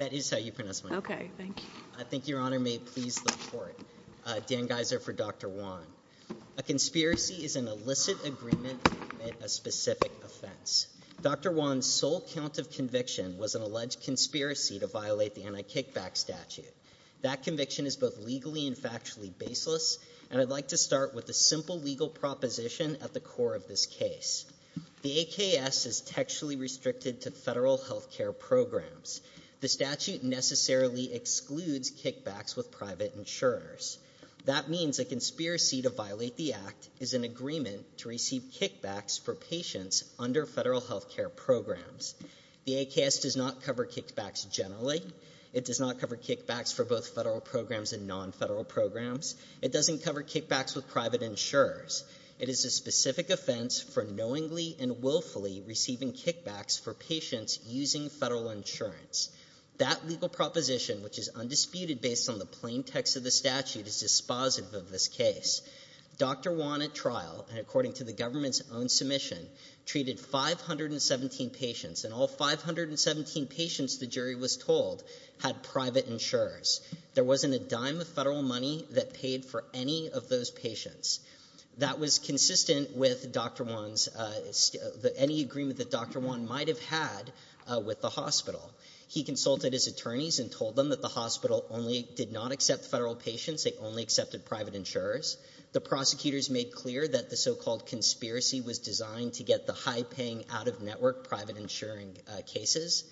That is how you pronounce my name. Okay, thank you. I think your honor may please look for it. Uh, Dan Geiser for Dr. Wan. A conspiracy is an illicit agreement with a specific offense. Dr. Wan's sole count of conviction was an alleged conspiracy to violate the anti-kickback statute. That conviction is both legally and factually baseless, and I'd like to start with a simple legal proposition at the core of this case. The AKS is textually restricted to federal health care programs. The statute necessarily excludes kickbacks with private insurers. That means a conspiracy to violate the act is an agreement to receive kickbacks for patients under federal health care programs. The AKS does not cover kickbacks generally. It does not cover kickbacks for both federal programs and non-federal programs. It doesn't cover kickbacks with private insurers. It is a specific offense for knowingly and willfully receiving kickbacks for non-federal insurance. That legal proposition, which is undisputed based on the plain text of the statute, is dispositive of this case. Dr. Wan at trial, according to the government's own submission, treated 517 patients, and all 517 patients, the jury was told, had private insurers. There wasn't a dime of federal money that paid for any of those patients. That was consistent with Dr. Wan's, any agreement that Dr. Wan might have had with the hospital. He consulted his attorneys and told them that the hospital only did not accept federal patients. They only accepted private insurers. The prosecutors made clear that the so-called conspiracy was designed to get the high-paying out-of-network private insuring cases.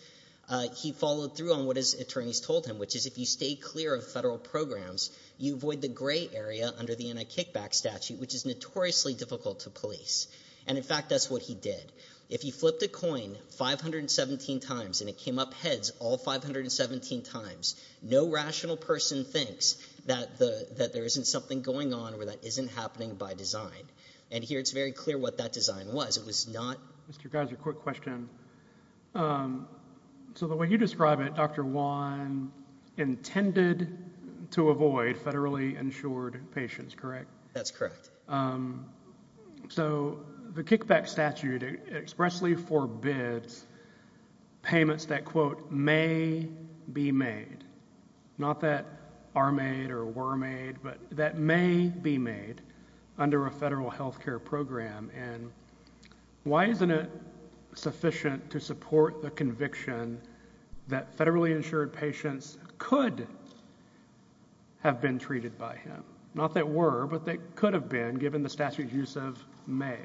He followed through on what his attorneys told him, which is if you stay clear of federal programs, you avoid the gray area under the anti-kickback statute, which is notoriously difficult to police. In fact, that's what he did. If you flip the coin 517 times and it came up heads all 517 times, no rational person thinks that there isn't something going on or that isn't happening by design. Here, it's very clear what that design was. It was not... Mr. Geiser, quick question. The way you describe it, Dr. Wan intended to avoid federally insured patients, correct? That's correct. The kickback statute expressly forbids payments that, quote, may be made, not that are made or were made, but that may be made under a federal healthcare program. Why isn't it sufficient to have been treated by him? Not that were, but that could have been given the statute's use of may.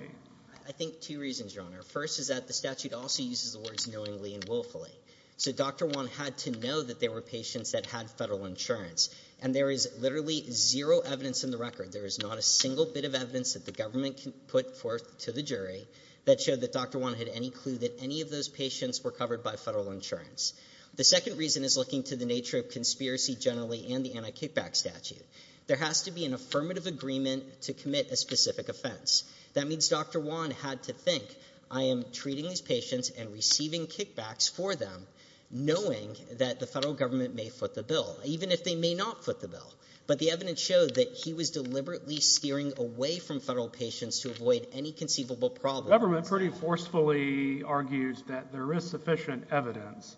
I think two reasons, Your Honor. First is that the statute also uses the words knowingly and willfully. So Dr. Wan had to know that there were patients that had federal insurance, and there is literally zero evidence in the record. There is not a single bit of evidence that the government can put forth to the jury that showed that Dr. Wan had any clue that any of those patients were covered by federal insurance. The second reason is looking to nature of conspiracy generally and the anti-kickback statute. There has to be an affirmative agreement to commit a specific offense. That means Dr. Wan had to think, I am treating these patients and receiving kickbacks for them, knowing that the federal government may foot the bill, even if they may not foot the bill. But the evidence showed that he was deliberately steering away from federal patients to avoid any conceivable problem. The government pretty forcefully argues that there is sufficient evidence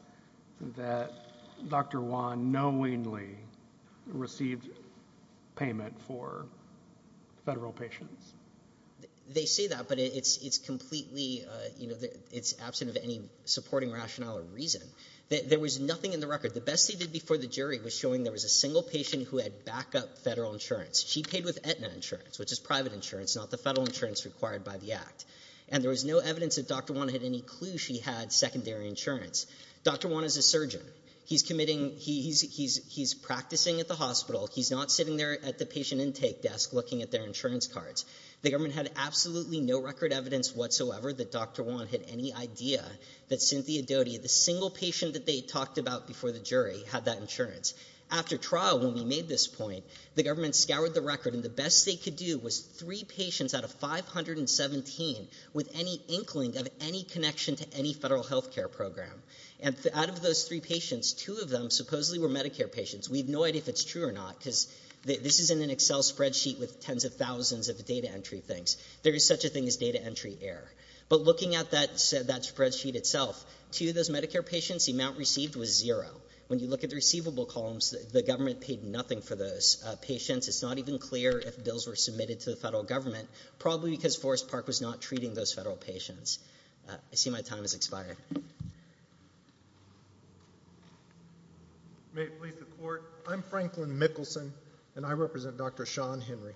that Dr. Wan knowingly received payment for federal patients. They say that, but it is completely, it is absent of any supporting rationale or reason. There was nothing in the record. The best they did before the jury was showing there was a single patient who had backup federal insurance. She paid with Aetna insurance, which is private insurance, not the federal insurance required by the act. And there was no evidence that Dr. Wan had any clue she had secondary insurance. Dr. Wan is a surgeon. He's committing, he's practicing at the hospital. He's not sitting there at the patient intake desk looking at their insurance cards. The government had absolutely no record evidence whatsoever that Dr. Wan had any idea that Cynthia Doty, the single patient that they talked about before the jury, had that insurance. After trial, when we made this point, the government scoured the record, and the best they could do was three patients out of 517 with any inkling of any connection to any federal healthcare program. And out of those three patients, two of them supposedly were Medicare patients. We have no idea if it's true or not, because this is in an Excel spreadsheet with tens of thousands of data entry things. There is such a thing as data entry error. But looking at that spreadsheet itself, two of those Medicare patients, the amount received was zero. When you look at the receivable columns, the government paid nothing for those patients. It's not even clear if bills were submitted to the federal government, probably because Forest Park was not treating those federal patients. I see my time has expired. May it please the court. I'm Franklin Mickelson, and I represent Dr. Sean Henry.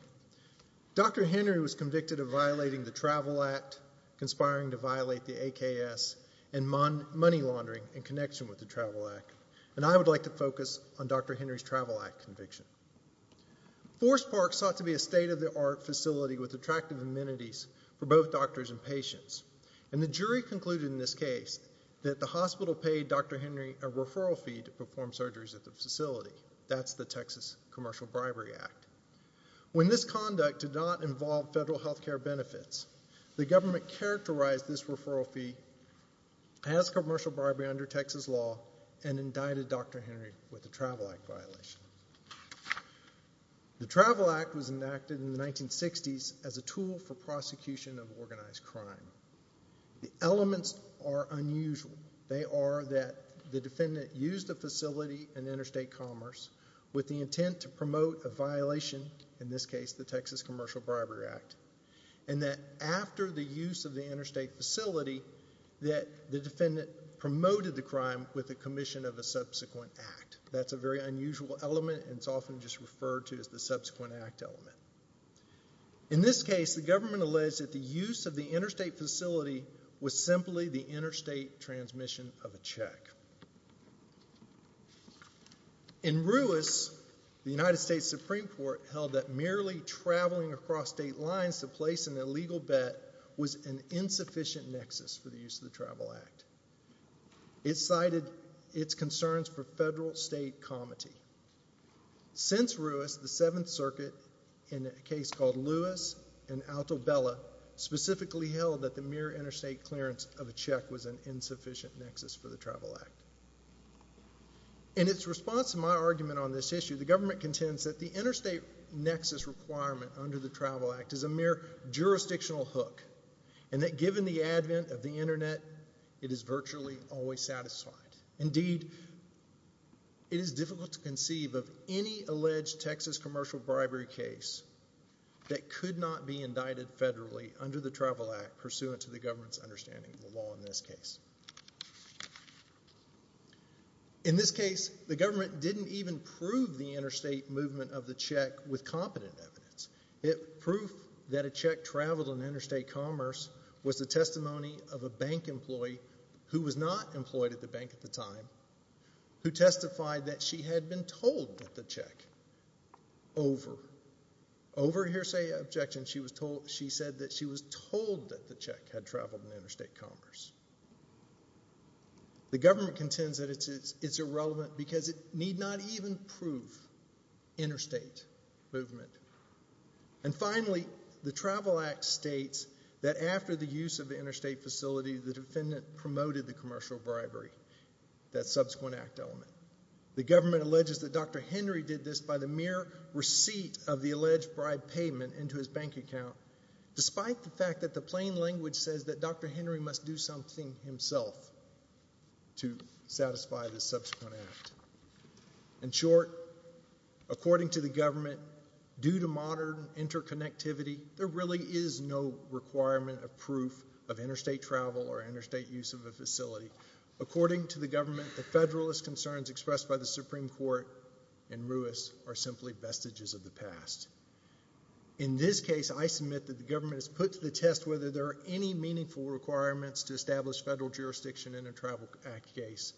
Dr. Henry was convicted of violating the Travel Act, conspiring to violate the AKS, and money laundering in Forest Park. Forest Park sought to be a state-of-the-art facility with attractive amenities for both doctors and patients. And the jury concluded in this case that the hospital paid Dr. Henry a referral fee to perform surgeries at the facility. That's the Texas Commercial Bribery Act. When this conduct did not involve federal healthcare benefits, the government characterized this referral fee as commercial bribery under Texas law and indicted Dr. Henry with a Travel Act violation. The Travel Act was enacted in the 1960s as a tool for prosecution of organized crime. The elements are unusual. They are that the defendant used the facility in interstate commerce with the intent to promote a violation, in this case the Texas Commercial Bribery Act, and that after the use of the interstate facility that the defendant promoted the crime with the commission of a subsequent act. That's a very unusual element, and it's often just referred to as the subsequent act element. In this case, the government alleged that the use of the interstate facility was simply the interstate transmission of a check. In Ruiz, the United States Supreme Court held that merely traveling across state lines to place an illegal bet was an insufficient nexus for the use of the Travel Act. It cited its concerns for federal state comity. Since Ruiz, the Seventh Circuit, in a case called Lewis and Alto Bella, specifically held that the mere interstate clearance of a check was an insufficient nexus for the Travel Act. In its response to my argument on this issue, the government contends that the interstate nexus requirement under the Travel Act is a mere jurisdictional hook, and that given the advent of the internet, it is virtually always satisfied. Indeed, it is difficult to conceive of any alleged Texas commercial bribery case that could not be indicted federally under the Travel Act pursuant to the government's understanding of the law in this case. In this case, the government didn't even prove the interstate movement of the check with competent evidence. The proof that a check traveled in interstate commerce was the testimony of a bank employee, who was not employed at the bank at the time, who testified that she had been told that the check, over hearsay objection, she said that she was told that the check had traveled in interstate commerce. The government contends that it's irrelevant because it need not even prove interstate movement. And finally, the Travel Act states that after the use of the interstate facility, the defendant promoted the commercial bribery, that subsequent act element. The government alleges that Dr. Henry did this by the mere receipt of the alleged bribe payment into his bank account, despite the fact that the plain language says that Dr. Henry must do himself to satisfy the subsequent act. In short, according to the government, due to modern interconnectivity, there really is no requirement of proof of interstate travel or interstate use of the facility. According to the government, the federalist concerns expressed by the Supreme Court and Ruiz are simply vestiges of the past. In this case, I submit that the government has put to the established federal jurisdiction in a Travel Act case,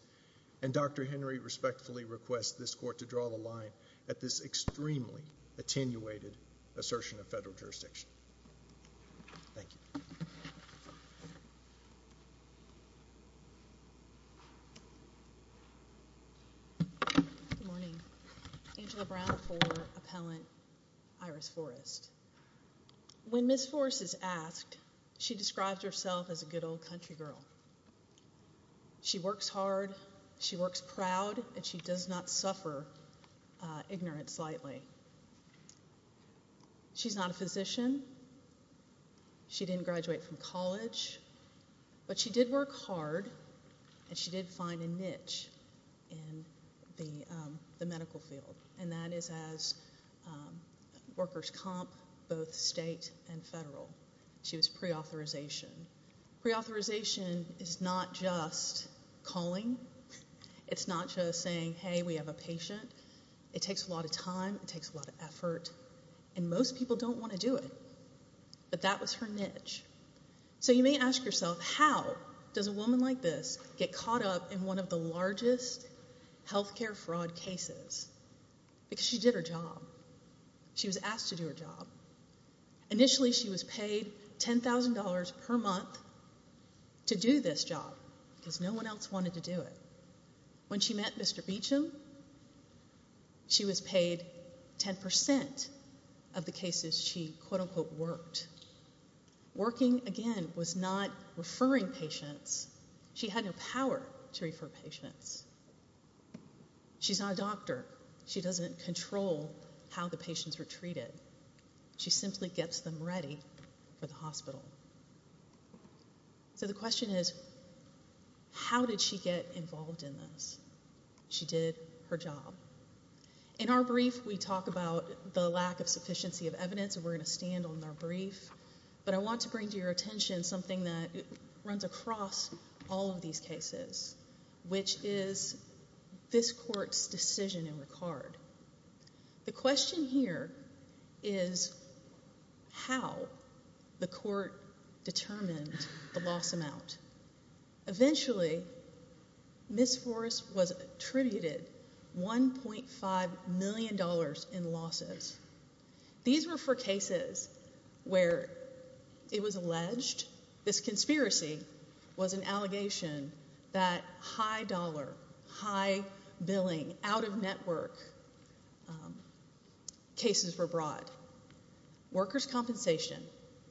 and Dr. Henry respectfully requests this court to draw the line at this extremely attenuated assertion of federal jurisdiction. Thank you. Good morning. Angela Brown for Appellant Iris Forrest. When Ms. Forrest is asked, she describes herself as a good old country girl. She works hard, she works proud, and she does not suffer ignorance lightly. She's not a physician, she didn't graduate from college, but she did work hard, and she did find a niche in the medical field, and that is as workers' comp, both state and federal. She was pre-authorization. Pre-authorization is not just calling, it's not just saying, hey, we have a patient. It takes a lot of time, it takes a lot of effort, and most people don't want to do it, but that was her niche. So you may ask yourself, how does a woman like this get caught up in one of the largest healthcare fraud cases? Because she did her job. She was asked to do her job. Initially, she was paid $10,000 per month to do this job because no one else wanted to do it. When she met Mr. Beecham, she was paid 10% of the cases she quote, unquote, worked. Working, again, was not to refer patients. She's not a doctor. She doesn't control how the patients are treated. She simply gets them ready for the hospital. So the question is, how did she get involved in this? She did her job. In our brief, we talk about the lack of sufficiency of evidence, and we're going to stand on our brief, but I want to bring to your attention something that runs across all these cases, which is this court's decision in the card. The question here is how the court determines the loss amount. Eventually, Miss Forrest was attributed $1.5 million in losses. These were for cases where it was alleged this conspiracy was an allegation that high dollar, high billing, out of network cases were brought. Workers' compensation,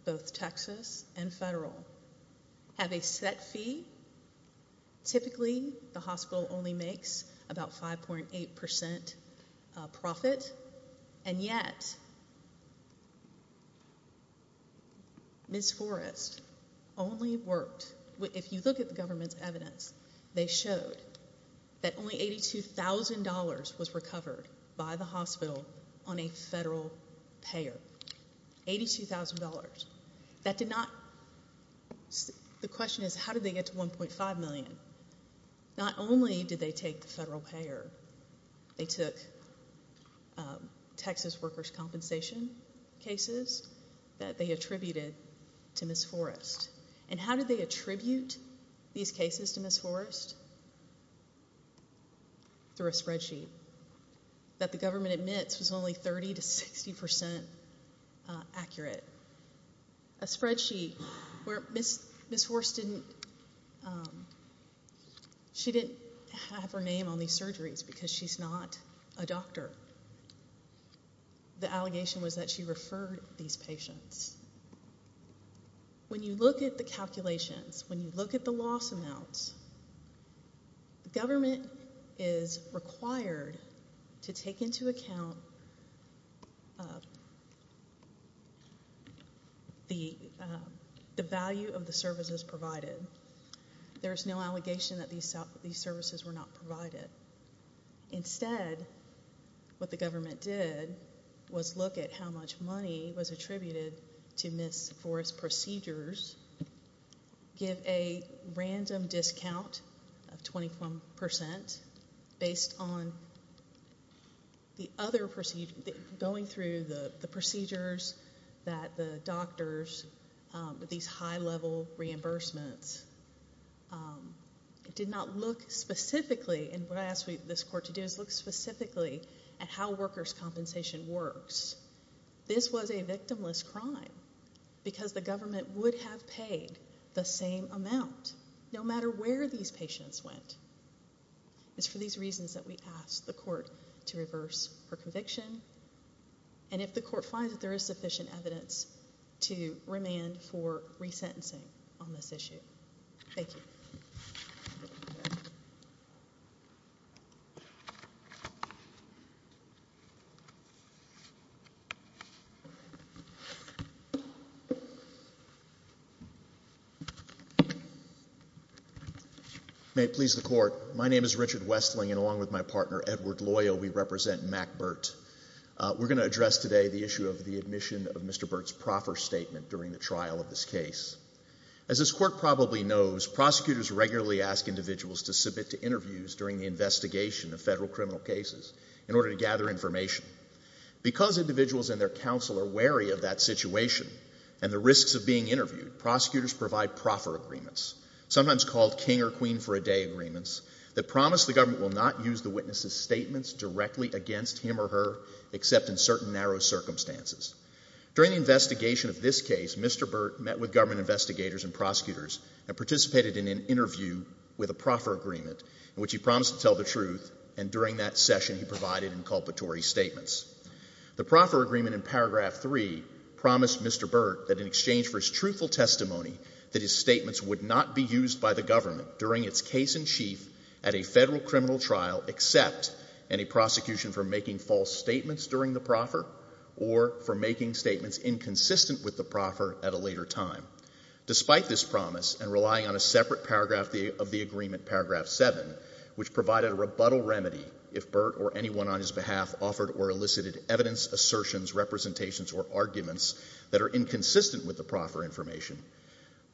both Texas and federal, have a set fee. Typically, the hospital only makes about 5.8% profit, and yet, Miss Forrest only worked, if you look at the government's evidence, they showed that only The question is, how did they get to $1.5 million? Not only did they take federal payer, they took Texas workers' compensation cases that they attributed to Miss Forrest. And how did they attribute these cases to Miss Forrest? Through a spreadsheet that the government admits is only 30 to 60% accurate. A spreadsheet where Miss Forrest didn't have her name on these surgeries, because she's not a doctor. The allegation was that she referred these patients. When you look at the calculations, when you look at the loss amounts, the government is required to take into account the value of the services provided. There's no allegation that these services were not provided. Instead, what the government did was look at how much money was attributed to Miss Forrest's random discount of 21% based on the other procedures, going through the procedures that the doctors, these high-level reimbursements, did not look specifically, and what I asked this court to do is look specifically at how workers' compensation works. This was a victimless crime, because the government would have paid the same amount, no matter where these patients went. It's for these reasons that we asked the court to reverse her conviction, and if the court finds there is sufficient evidence to remand for resentencing on this issue. Thank you. May it please the court, my name is Richard Westling, and along with my partner Edward Loyal, we represent Mack Burt. We're going to address today the issue of the admission of Mr. Burt's proper statement during the trial of his case. As this court probably knows, prosecutors regularly ask individuals to submit to interviews during the investigation of federal criminal cases in order to gather information. Because individuals and their counsel are wary of that situation and the risks of being interviewed, prosecutors provide proper agreements, sometimes called king or queen for a day agreements, that promise the government will not use the witness's statements directly against him or her, except in certain narrow circumstances. During the investigation of this case, Mr. Burt met with government investigators and prosecutors and participated in an interview with a proper agreement in which he promised to tell the truth, and during that session he provided inculpatory statements. The proper agreement in paragraph 3 promised Mr. Burt that in exchange for his truthful testimony, that his statements would not be used by the government during its case in chief at a federal criminal trial, except any prosecution for making false statements during the proffer or for making statements inconsistent with the proffer at a later time. Despite this promise and relying on a separate paragraph of the agreement, paragraph 7, which provided a rebuttal remedy if Burt or anyone on his behalf offered or elicited evidence, assertions, representations, or arguments that are inconsistent with the proffer information,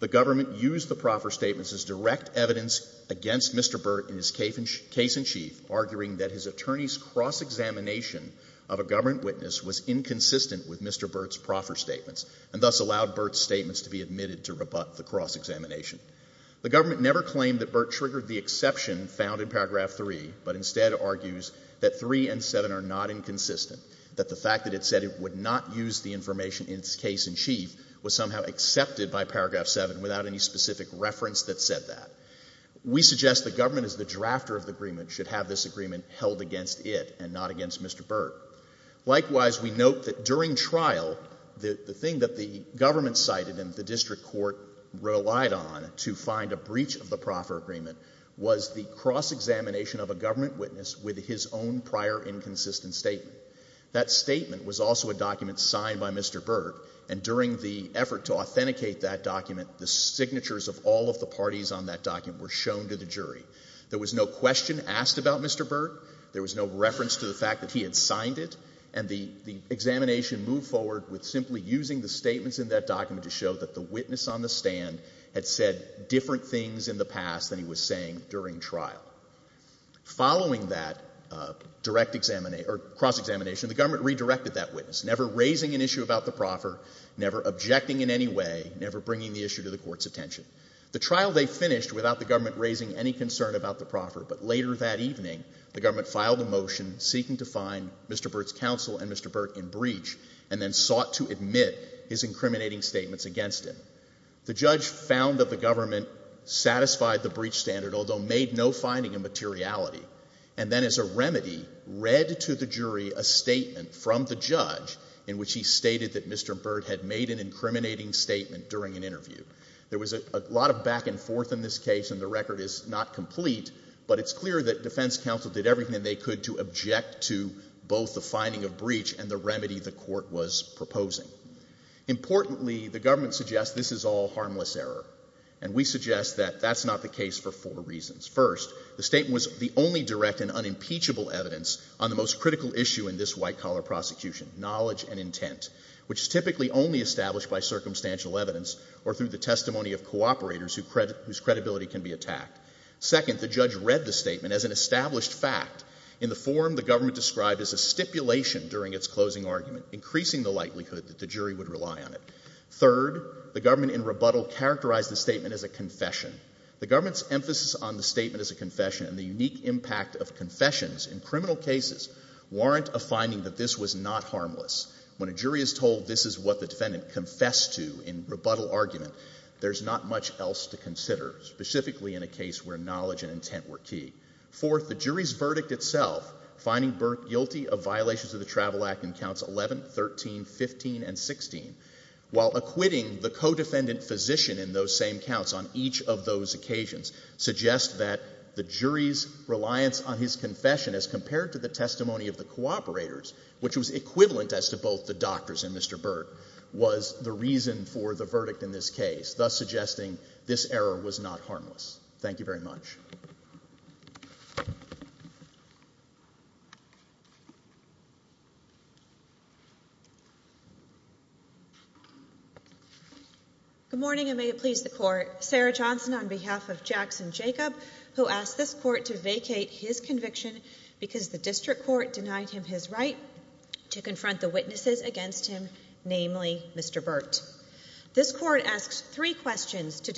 the government used the proffer statements as direct evidence against Mr. Burt in his case in chief, arguing that his attorney's cross-examination of a government witness was inconsistent with Mr. Burt's proffer statements, and thus allowed Burt's statements to be admitted to rebut the cross-examination. The government never claimed that Burt triggered the exception found in paragraph 3, but instead argues that 3 and 7 are not inconsistent, that the fact that it said it would not use the information in its case in chief was somehow accepted by paragraph 7 without any specific reference that said that. We suggest the government as the drafter of the agreement should have this agreement held against it and not against Mr. Burt. Likewise, we note that during trial, the thing that the government cited and the district court relied on to find a breach of the proffer agreement was the cross-examination of a government witness with his own prior inconsistent statement. That statement was also a document signed by Mr. Burt, and during the effort to authenticate that document, the signatures of all of the parties on that document were shown to the jury. There was no question asked about Mr. Burt, there was no reference to the fact that he had signed it, and the examination moved forward with simply using the statements in that document to show that the witness on the stand had said different things in the past than he was saying during trial. Following that cross-examination, the government redirected that witness, never raising an issue about the proffer, never objecting in any way, never bringing the issue to the court's attention. The trial they finished without the government raising any concern about the proffer, but later that evening, the government filed a motion seeking to find Mr. Burt's counsel and Mr. Burt in breach, and then sought to admit his incriminating statements against him. The judge found that the government satisfied the breach standard, although made no finding of materiality, and then as a remedy, read to the jury a statement from the judge in which he stated that Mr. Burt had made an incriminating statement during an interview. There was a lot of back and forth in this case, and the record is not complete, but it's clear that defense counsel did everything they could to object to both the finding of breach and the remedy the court was proposing. Importantly, the government suggests this is all harmless error, and we suggest that that's not the case for four reasons. First, the statement was the only direct and unimpeachable evidence on the most critical issue in this white-collar prosecution, knowledge and intent, which is typically only established by circumstantial evidence or through the testimony of cooperators whose credibility can be attacked. Second, the judge read the statement as an established fact in the form the government described as a stipulation during its closing argument, increasing the likelihood that the jury would rely on it. Third, the government in rebuttal characterized the statement as a confession. The government's emphasis on the statement as a confession and the unique impact of confessions in criminal cases warrant a finding that this was not harmless. When a jury is told this is what the defendant confessed to in rebuttal argument, there's not much else to consider, specifically in a case where knowledge and intent were key. Fourth, the jury's verdict itself, finding Burt guilty of violations of the Travel Act in counts 11, 13, 15, and 16, while acquitting the co-defendant physician in those same counts on each of those occasions, suggests that the jury's reliance on his confession as compared to the testimony of the cooperators, which was equivalent as to both the doctors and Mr. Burt, was the reason for the verdict in this case, thus suggesting this error was not harmless. Thank you very much. Good morning, and may it please the Court. Sarah Johnson on behalf of Jackson Jacob, who asked this Court to vacate his conviction because the District Court denied him his right to confront the witnesses against him, namely Mr. Burt. This Court asked three questions to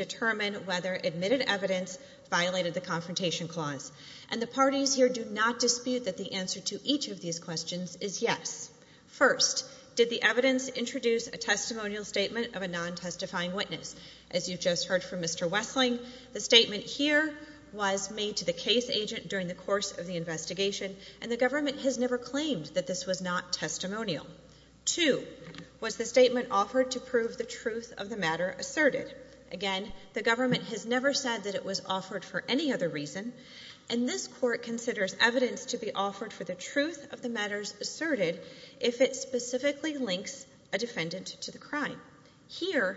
violate the Confrontation Clause, and the parties here do not dispute that the answer to each of these questions is yes. First, did the evidence introduce a testimonial statement of a non- testifying witness? As you just heard from Mr. Westling, the statement here was made to the case agent during the course of the investigation, and the government has never claimed that this was not testimonial. Two, was the statement offered to prove the truth of the matter asserted? Again, the government has never said that it was offered for any other reason, and this Court considers evidence to be offered for the truth of the matters asserted if it specifically links a defendant to the crime. Here,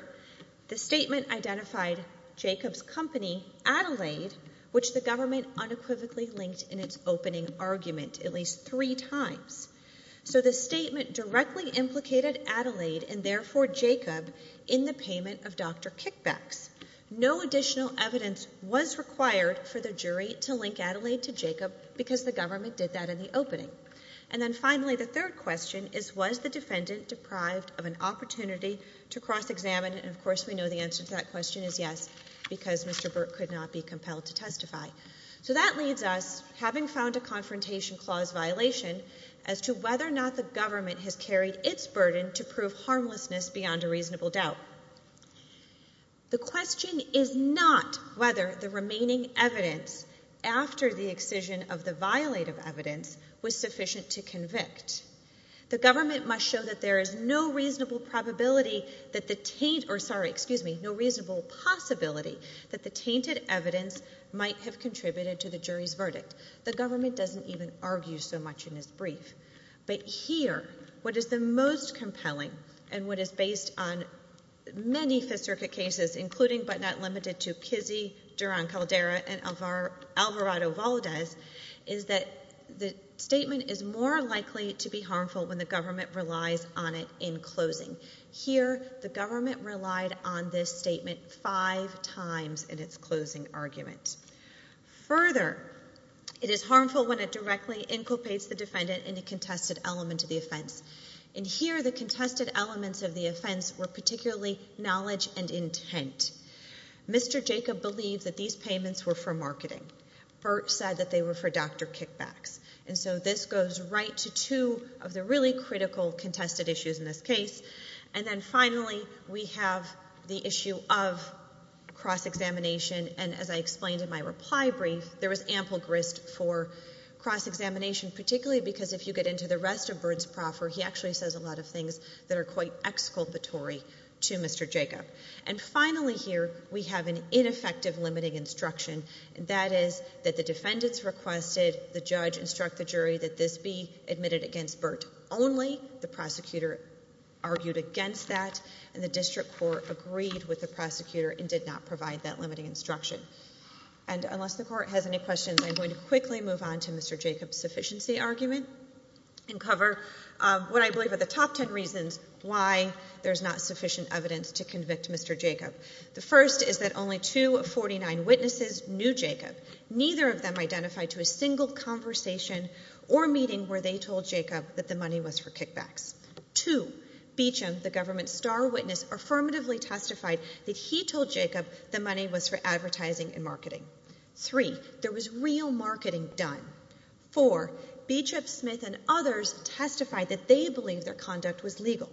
the statement identified Jacob's company, Adelaide, which the government unequivocally linked in its opening argument at least three times. So the statement directly implicated Adelaide, and therefore Jacob, in the payment of Dr. Kickback. No additional evidence was required for the jury to link Adelaide to Jacob because the government did that in the opening. And then finally, the third question is, was the defendant deprived of an opportunity to cross-examine? And of course, we know the answer to that question is yes, because Mr. Burt could not be compelled to testify. So that leaves us, having found a to whether or not the government has carried its burden to prove harmlessness beyond a reasonable doubt. The question is not whether the remaining evidence after the excision of the violative evidence was sufficient to convict. The government must show that there is no reasonable probability that the, or sorry, excuse me, no reasonable possibility that the tainted evidence might have contributed to the jury's verdict. The government doesn't even argue so much in its closing argument. But here, what is the most compelling, and what is based on many specific cases, including but not limited to Pizzi, Duran-Caldera, and Alvarado-Valdez, is that the statement is more likely to be harmful when the government relies on it in closing. Here, the government relied on this statement five times in its closing argument. Further, it is harmful when it directly inculpates the defendant in a contested element of the offense. And here, the contested elements of the offense were particularly knowledge and intent. Mr. Jacob believed that these payments were for marketing. Burt said that they were for doctor kickback. And so this goes right to two of the really critical contested issues in this case. And then finally, we have the issue of cross-examination. And as I explained in my reply there was ample risk for cross-examination, particularly because if you get into the rest of Burt's proffer, he actually says a lot of things that are quite exculpatory to Mr. Jacob. And finally here, we have an ineffective limiting instruction, and that is that the defendants requested the judge instruct the jury that this be admitted against Burt only. The prosecutor argued against that, and the district court agreed with the prosecutor and did not have any questions. I'm going to quickly move on to Mr. Jacob's sufficiency argument and cover what I believe are the top 10 reasons why there's not sufficient evidence to convict Mr. Jacob. The first is that only two of 49 witnesses knew Jacob. Neither of them identified to a single conversation or meeting where they told Jacob that the money was for kickback. Two, Beecham, the government's star witness, affirmatively testified that he told Jacob the money was for advertising and marketing. Three, there was real marketing done. Four, Beecham, Smith, and others testified that they believed the conduct was legal.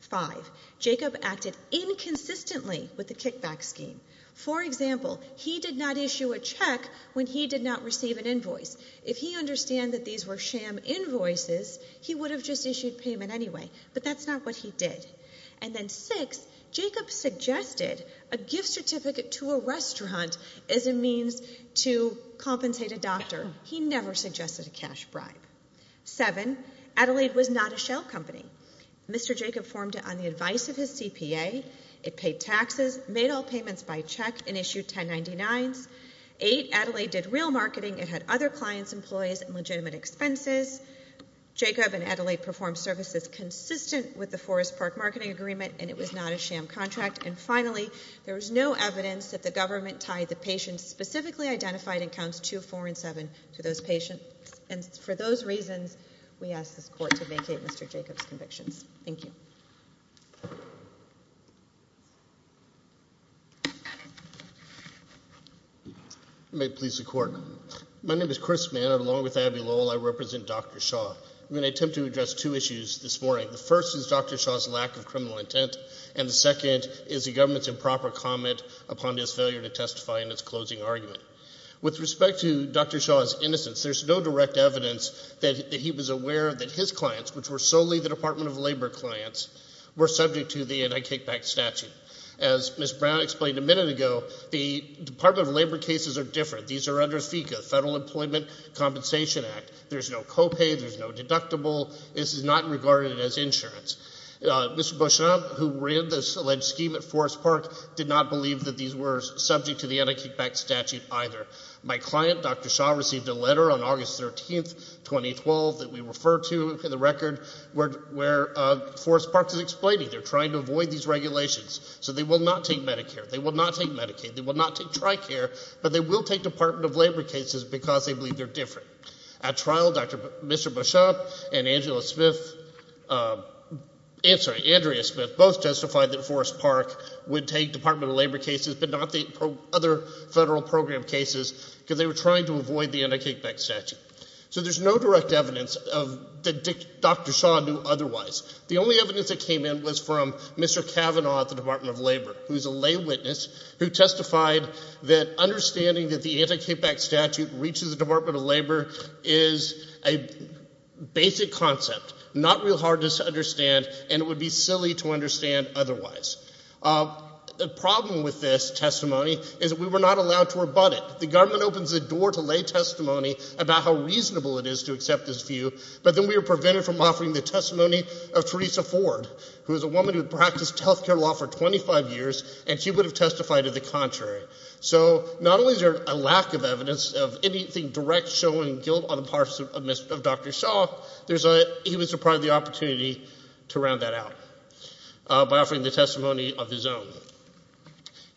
Five, Jacob acted inconsistently with the kickback scheme. For example, he did not issue a check when he did not receive an invoice. If he understood that these were sham invoices, he would have just arrested him as a means to compensate a doctor. He never suggested a cash bribe. Seven, Adelaide was not a shell company. Mr. Jacob formed it on the advice of his CPA. It paid taxes, made all payments by check, and issued 1099s. Eight, Adelaide did real marketing. It had other clients, employees, and legitimate expenses. Jacob and Adelaide performed services consistent with the Forest Park Marketing Agreement, and it was not a sham contract. And finally, there was no evidence that the government tied the patient specifically identified in counts two, four, and seven to those patients. And for those reasons, we ask the court to vacate Mr. Jacob's conviction. Thank you. May it please the court. My name is Chris Mann. Along with Abby Lowell, I represent Dr. Shaw. I'm going to attempt to address two issues this morning. The first is Dr. Shaw's lack of criminal intent, and the second is the government's improper comment upon his failure to testify in its closing argument. With respect to Dr. Shaw's innocence, there's no direct evidence that he was aware that his clients, which were solely the Department of Labor clients, were subject to the anti-kickback statute. As Ms. Brown explained a minute ago, the Department of Labor cases are different. These are under FECA, Federal Employment Compensation Act. There's no copay, there's no deductible. This is not regarded as insurance. Mr. Beauchamp, who ran this alleged scheme at Forest Park, did not believe that these were subject to the anti-kickback statute either. My client, Dr. Shaw, received a letter on August 13, 2012, that we refer to in the record, where Forest Park is explaining they're trying to avoid these regulations. So they will not take Medicare, they will not take Medicaid, they will not take TRICARE, but they will take Department of Labor cases because they believe they're different. At trial, Mr. Beauchamp and Andrea Smith both testified that Forest Park would take Department of Labor cases but not take other federal program cases because they were trying to avoid the anti-kickback statute. So there's no direct evidence that Dr. Shaw knew otherwise. The only evidence that came in was from Mr. Cavanaugh at the Department of Labor, who was a lay witness, who testified that understanding that the anti-kickback statute reaches the Department of Labor is a basic concept, not real hard to understand, and it would be silly to understand otherwise. The problem with this testimony is we were not allowed to rebut it. The government opens the door to lay testimony about how reasonable it is to accept this view, but then we were prevented from offering the testimony of Theresa Ford, who was a woman who had practiced health care law for 25 years, and she would have testified of the contrary. So not only is there a lack of evidence of anything direct showing guilt on the part of Dr. Shaw, there's a, it was a part of the opportunity to round that out by offering the testimony of his own.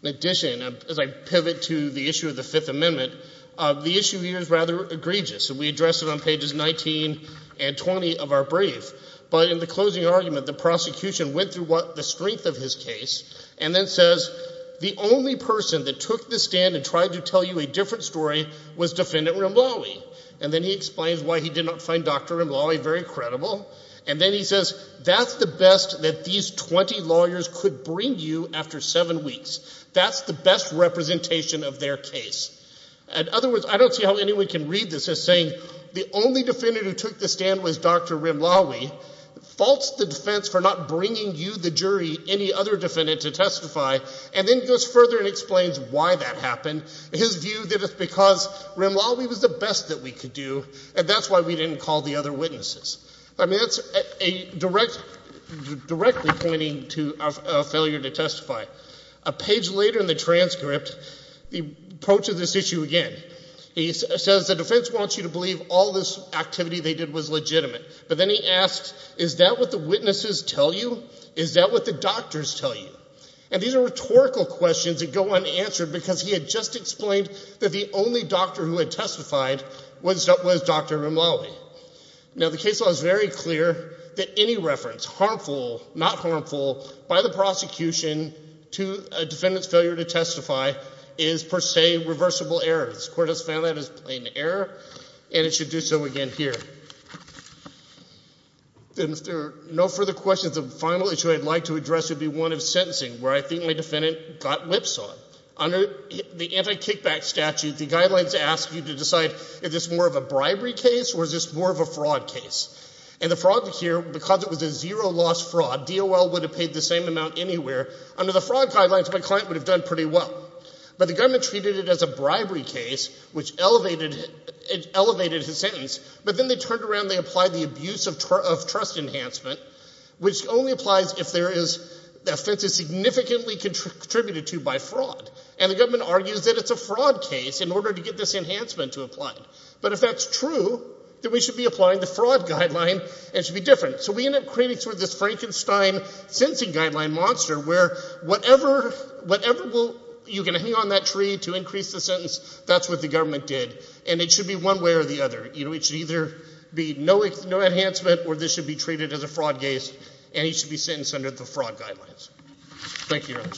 In addition, as I pivot to the issue of the Fifth Amendment, the issue here is rather egregious, and we address it on pages 19 and 20 of our brief, but in the closing argument, the prosecution went through what the strength of his case, and then says the only person that took the stand and tried to tell you a different story was Defendant Rimlawi, and then he explains why he did not find Dr. Rimlawi very credible, and then he says that's the best that these 20 lawyers could bring you after seven weeks. That's the best representation of their case. In other words, I don't see how anyone can read this as saying the only defendant who took the for not bringing you, the jury, any other defendant to testify, and then goes further and explains why that happened. His view that it's because Rimlawi was the best that we could do, and that's why we didn't call the other witnesses. I mean, that's a direct, directly pointing to a failure to testify. A page later in the transcript, he approaches this issue again. He says the defense wants you to believe all this activity they did was legitimate, but then he asks, is that what the witnesses tell you? Is that what the doctors tell you? And these are rhetorical questions that go unanswered because he had just explained that the only doctor who had testified was Dr. Rimlawi. Now the case law is very clear that any reference, harmful, not harmful, by the prosecution to a defendant's failure to testify is per se reversible errors. Court has found that as an error, and it should do so again here. And if there are no further questions, the final issue I'd like to address would be one of sentencing, where I think my defendant got lipsawed. Under the anti-kickback statute, the guidelines ask you to decide, is this more of a bribery case, or is this more of a fraud case? And the problem here, because it was a zero-loss fraud, DOL would have paid the same amount anywhere. Under the fraud guidelines, my client would have done pretty well. But the government treated it as a bribery case, which elevated his sentence. But then they turned around and applied the abuse of trust enhancement, which only applies if the offense is significantly contributed to by fraud. And the government argues that it's a fraud case in order to get this enhancement to apply. But if that's true, then we should be applying the fraud guideline and it should be different. So we end up creating sort of this Frankenstein sentencing guideline monster, where whatever you can hang on that tree to increase the sentence, that's what the government did. And it should be one way or the other. It should either be no enhancement, or this should be treated as a fraud case, and he should be sentenced under the fraud guidelines. Thank you, Your Honor.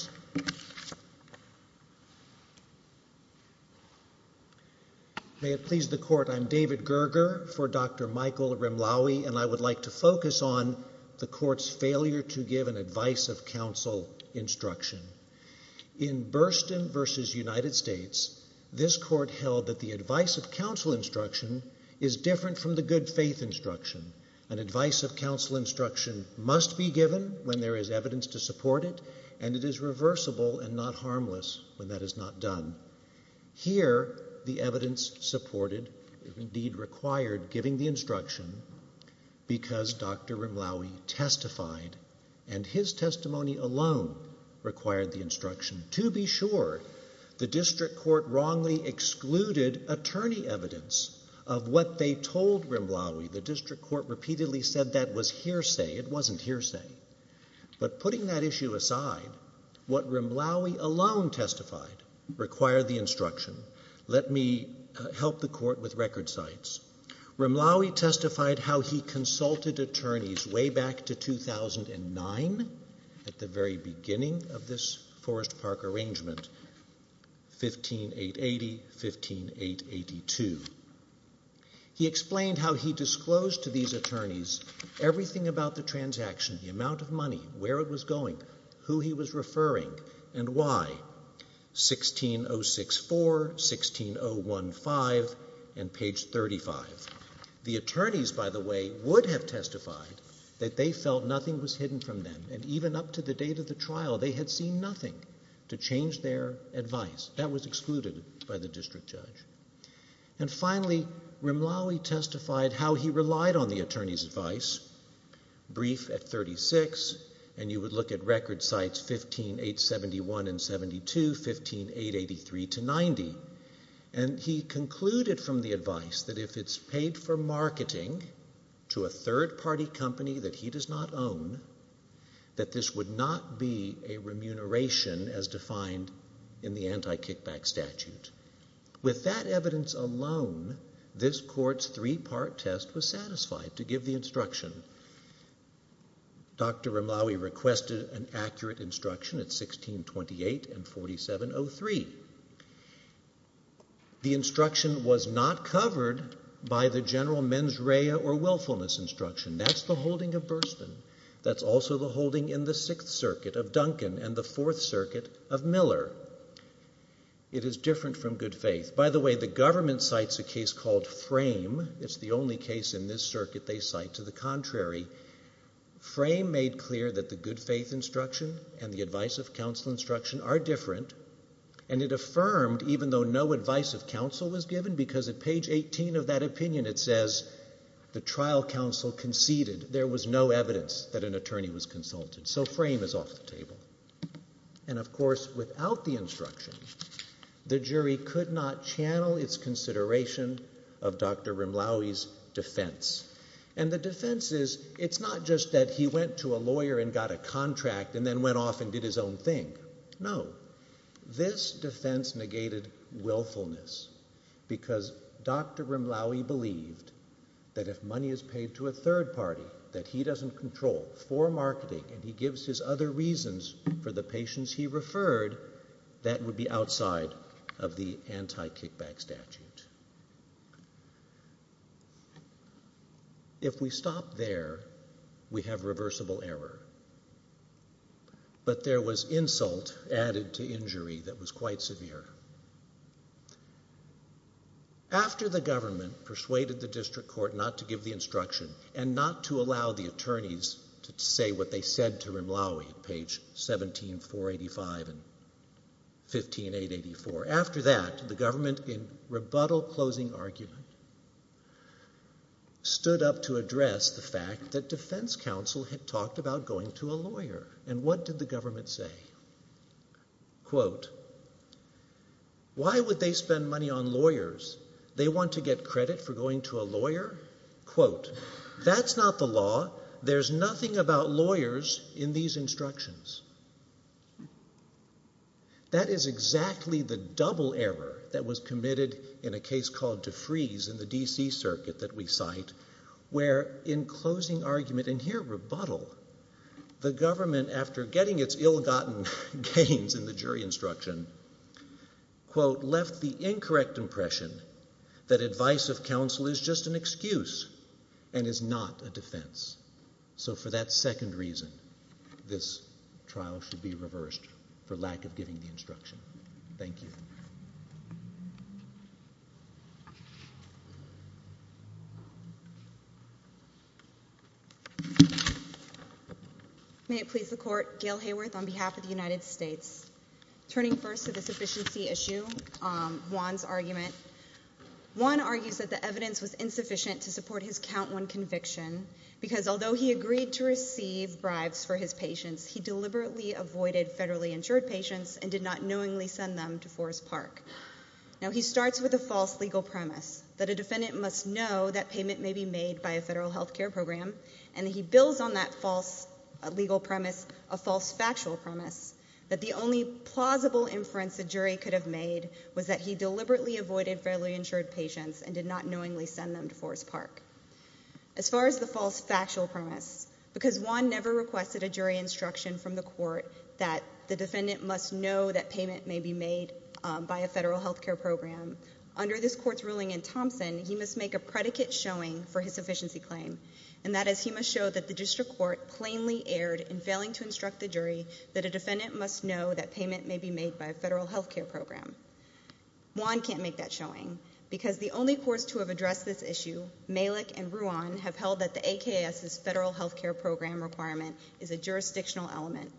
May it please the Court, I'm David Gerger for Dr. Michael Rimlawi, and I would like to focus on the Court's failure to give an advice of counsel instruction. In Burston v. United States, this Court held that the advice of counsel instruction is different from the good faith instruction. An advice of counsel instruction must be given when there is evidence to support it, and it is reversible and not harmless when that is not done. Here, the evidence supported is Rimlawi testified, and his testimony alone required the instruction. To be sure, the District Court wrongly excluded attorney evidence of what they told Rimlawi. The District Court repeatedly said that was hearsay. It wasn't hearsay. But putting that issue aside, what Rimlawi alone testified required the instruction. Let me help the Court with record sites. Rimlawi testified how he consulted attorneys way back to 2009, at the very beginning of this Forest Park arrangement, 15-880, 15-882. He explained how he disclosed to these attorneys everything about the transaction, the amount of money, where it was going, who he was referring, and why. 16-064, 16-015, and page 35. The attorneys, by the way, would have testified that they felt nothing was hidden from them, and even up to the date of the trial, they had seen nothing to change their advice. That was excluded by the District Judge. And finally, Rimlawi testified how he relied on the attorney's advice, brief at 36, and you would look at record sites 15-871 and 72, 15-883 to 90. And he concluded from the advice that if it's paid for marketing to a third-party company that he does not own, that this would not be a remuneration as defined in the anti-kickback statute. With that evidence alone, this Court's three-part test was satisfied to give the instruction. Dr. Rimlawi requested an accurate instruction at 16-28 and 47-03. The instruction was not covered by the general mens rea or willfulness instruction. That's the holding of Burstyn. That's also the holding in the Sixth Circuit of Duncan and the Fourth Circuit of Miller. It is different from good faith. By the way, the government cites a case called To the Contrary. Frame made clear that the good faith instruction and the advice of counsel instruction are different, and it affirmed, even though no advice of counsel was given, because at page 18 of that opinion it says the trial counsel conceded there was no evidence that an attorney was consulted. So Frame is off the table. And of course, without the instruction, the jury could not channel its consideration of Dr. Rimlawi's defense. And the defense is, it's not just that he went to a lawyer and got a contract and then went off and did his own thing. No. This defense negated willfulness because Dr. Rimlawi believed that if money is paid to a third party that he doesn't control for marketing and he gives his other reasons for the patients he referred, that would be outside of the anti-kickback statute. If we stop there, we have reversible error. But there was insult added to injury that was quite severe. After the government persuaded the district court not to give the instruction and not to allow the 17485 and 15884, after that the government in rebuttal closing argument stood up to address the fact that defense counsel had talked about going to a lawyer. And what did the government say? Quote, why would they spend money on lawyers? They want to get credit for going to a lawyer? Quote, that's not the law. There's nothing about lawyers in these instructions. That is exactly the double error that was committed in a case called DeFreeze in the D.C. circuit that we cite, where in closing argument, and here rebuttal, the government after getting its ill-gotten gains in the jury instruction, quote, left the incorrect impression that advice of counsel is just an excuse and is not a defense. So for that second reason, this trial should be reversed for lack of giving the instruction. Thank you. May it please the court, Gail Hayworth on behalf of the United States. Turning first to the sufficiency issue, Juan's argument. Juan argues that the evidence was his count one conviction because although he agreed to receive bribes for his patients, he deliberately avoided federally insured patients and did not knowingly send them to Forest Park. Now, he starts with a false legal premise that a defendant must know that payment may be made by a federal health care program. And he builds on that false legal premise, a false factual premise, that the only plausible inference the jury could have made was that he deliberately avoided federally insured patients and did not knowingly send them to Forest Park. As far as the false factual premise, because Juan never requested a jury instruction from the court that the defendant must know that payment may be made by a federal health care program, under this court's ruling in Thompson, he must make a predicate showing for his sufficiency claim. And that is he must show that the district court plainly erred in failing to instruct the jury that a defendant must know that payment may be made by a federal health care program. Juan can't make that showing because the only courts to have addressed this issue, Malik and Ruan, have held that the AKS's federal health care program requirement is a jurisdictional element.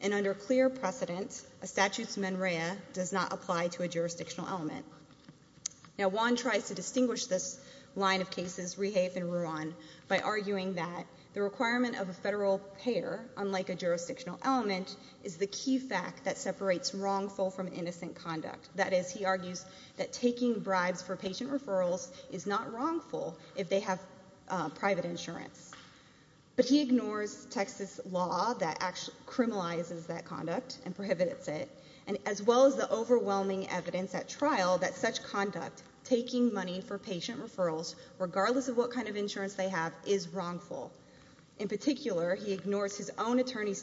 And under clear precedence, a status memoriae does not apply to a jurisdictional element. Now, Juan tries to distinguish this line of cases, Rehafe and Ruan, by arguing that the requirement of a federal payer, unlike a jurisdictional element, is the key fact that he argues that taking bribes for patient referrals is not wrongful if they have private insurance. But he ignores Texas law that criminalizes that conduct and prohibits it, as well as the overwhelming evidence at trial that such conduct, taking money for patient referrals, regardless of what kind of insurance they have, is wrongful. In particular, he ignores his own attorney's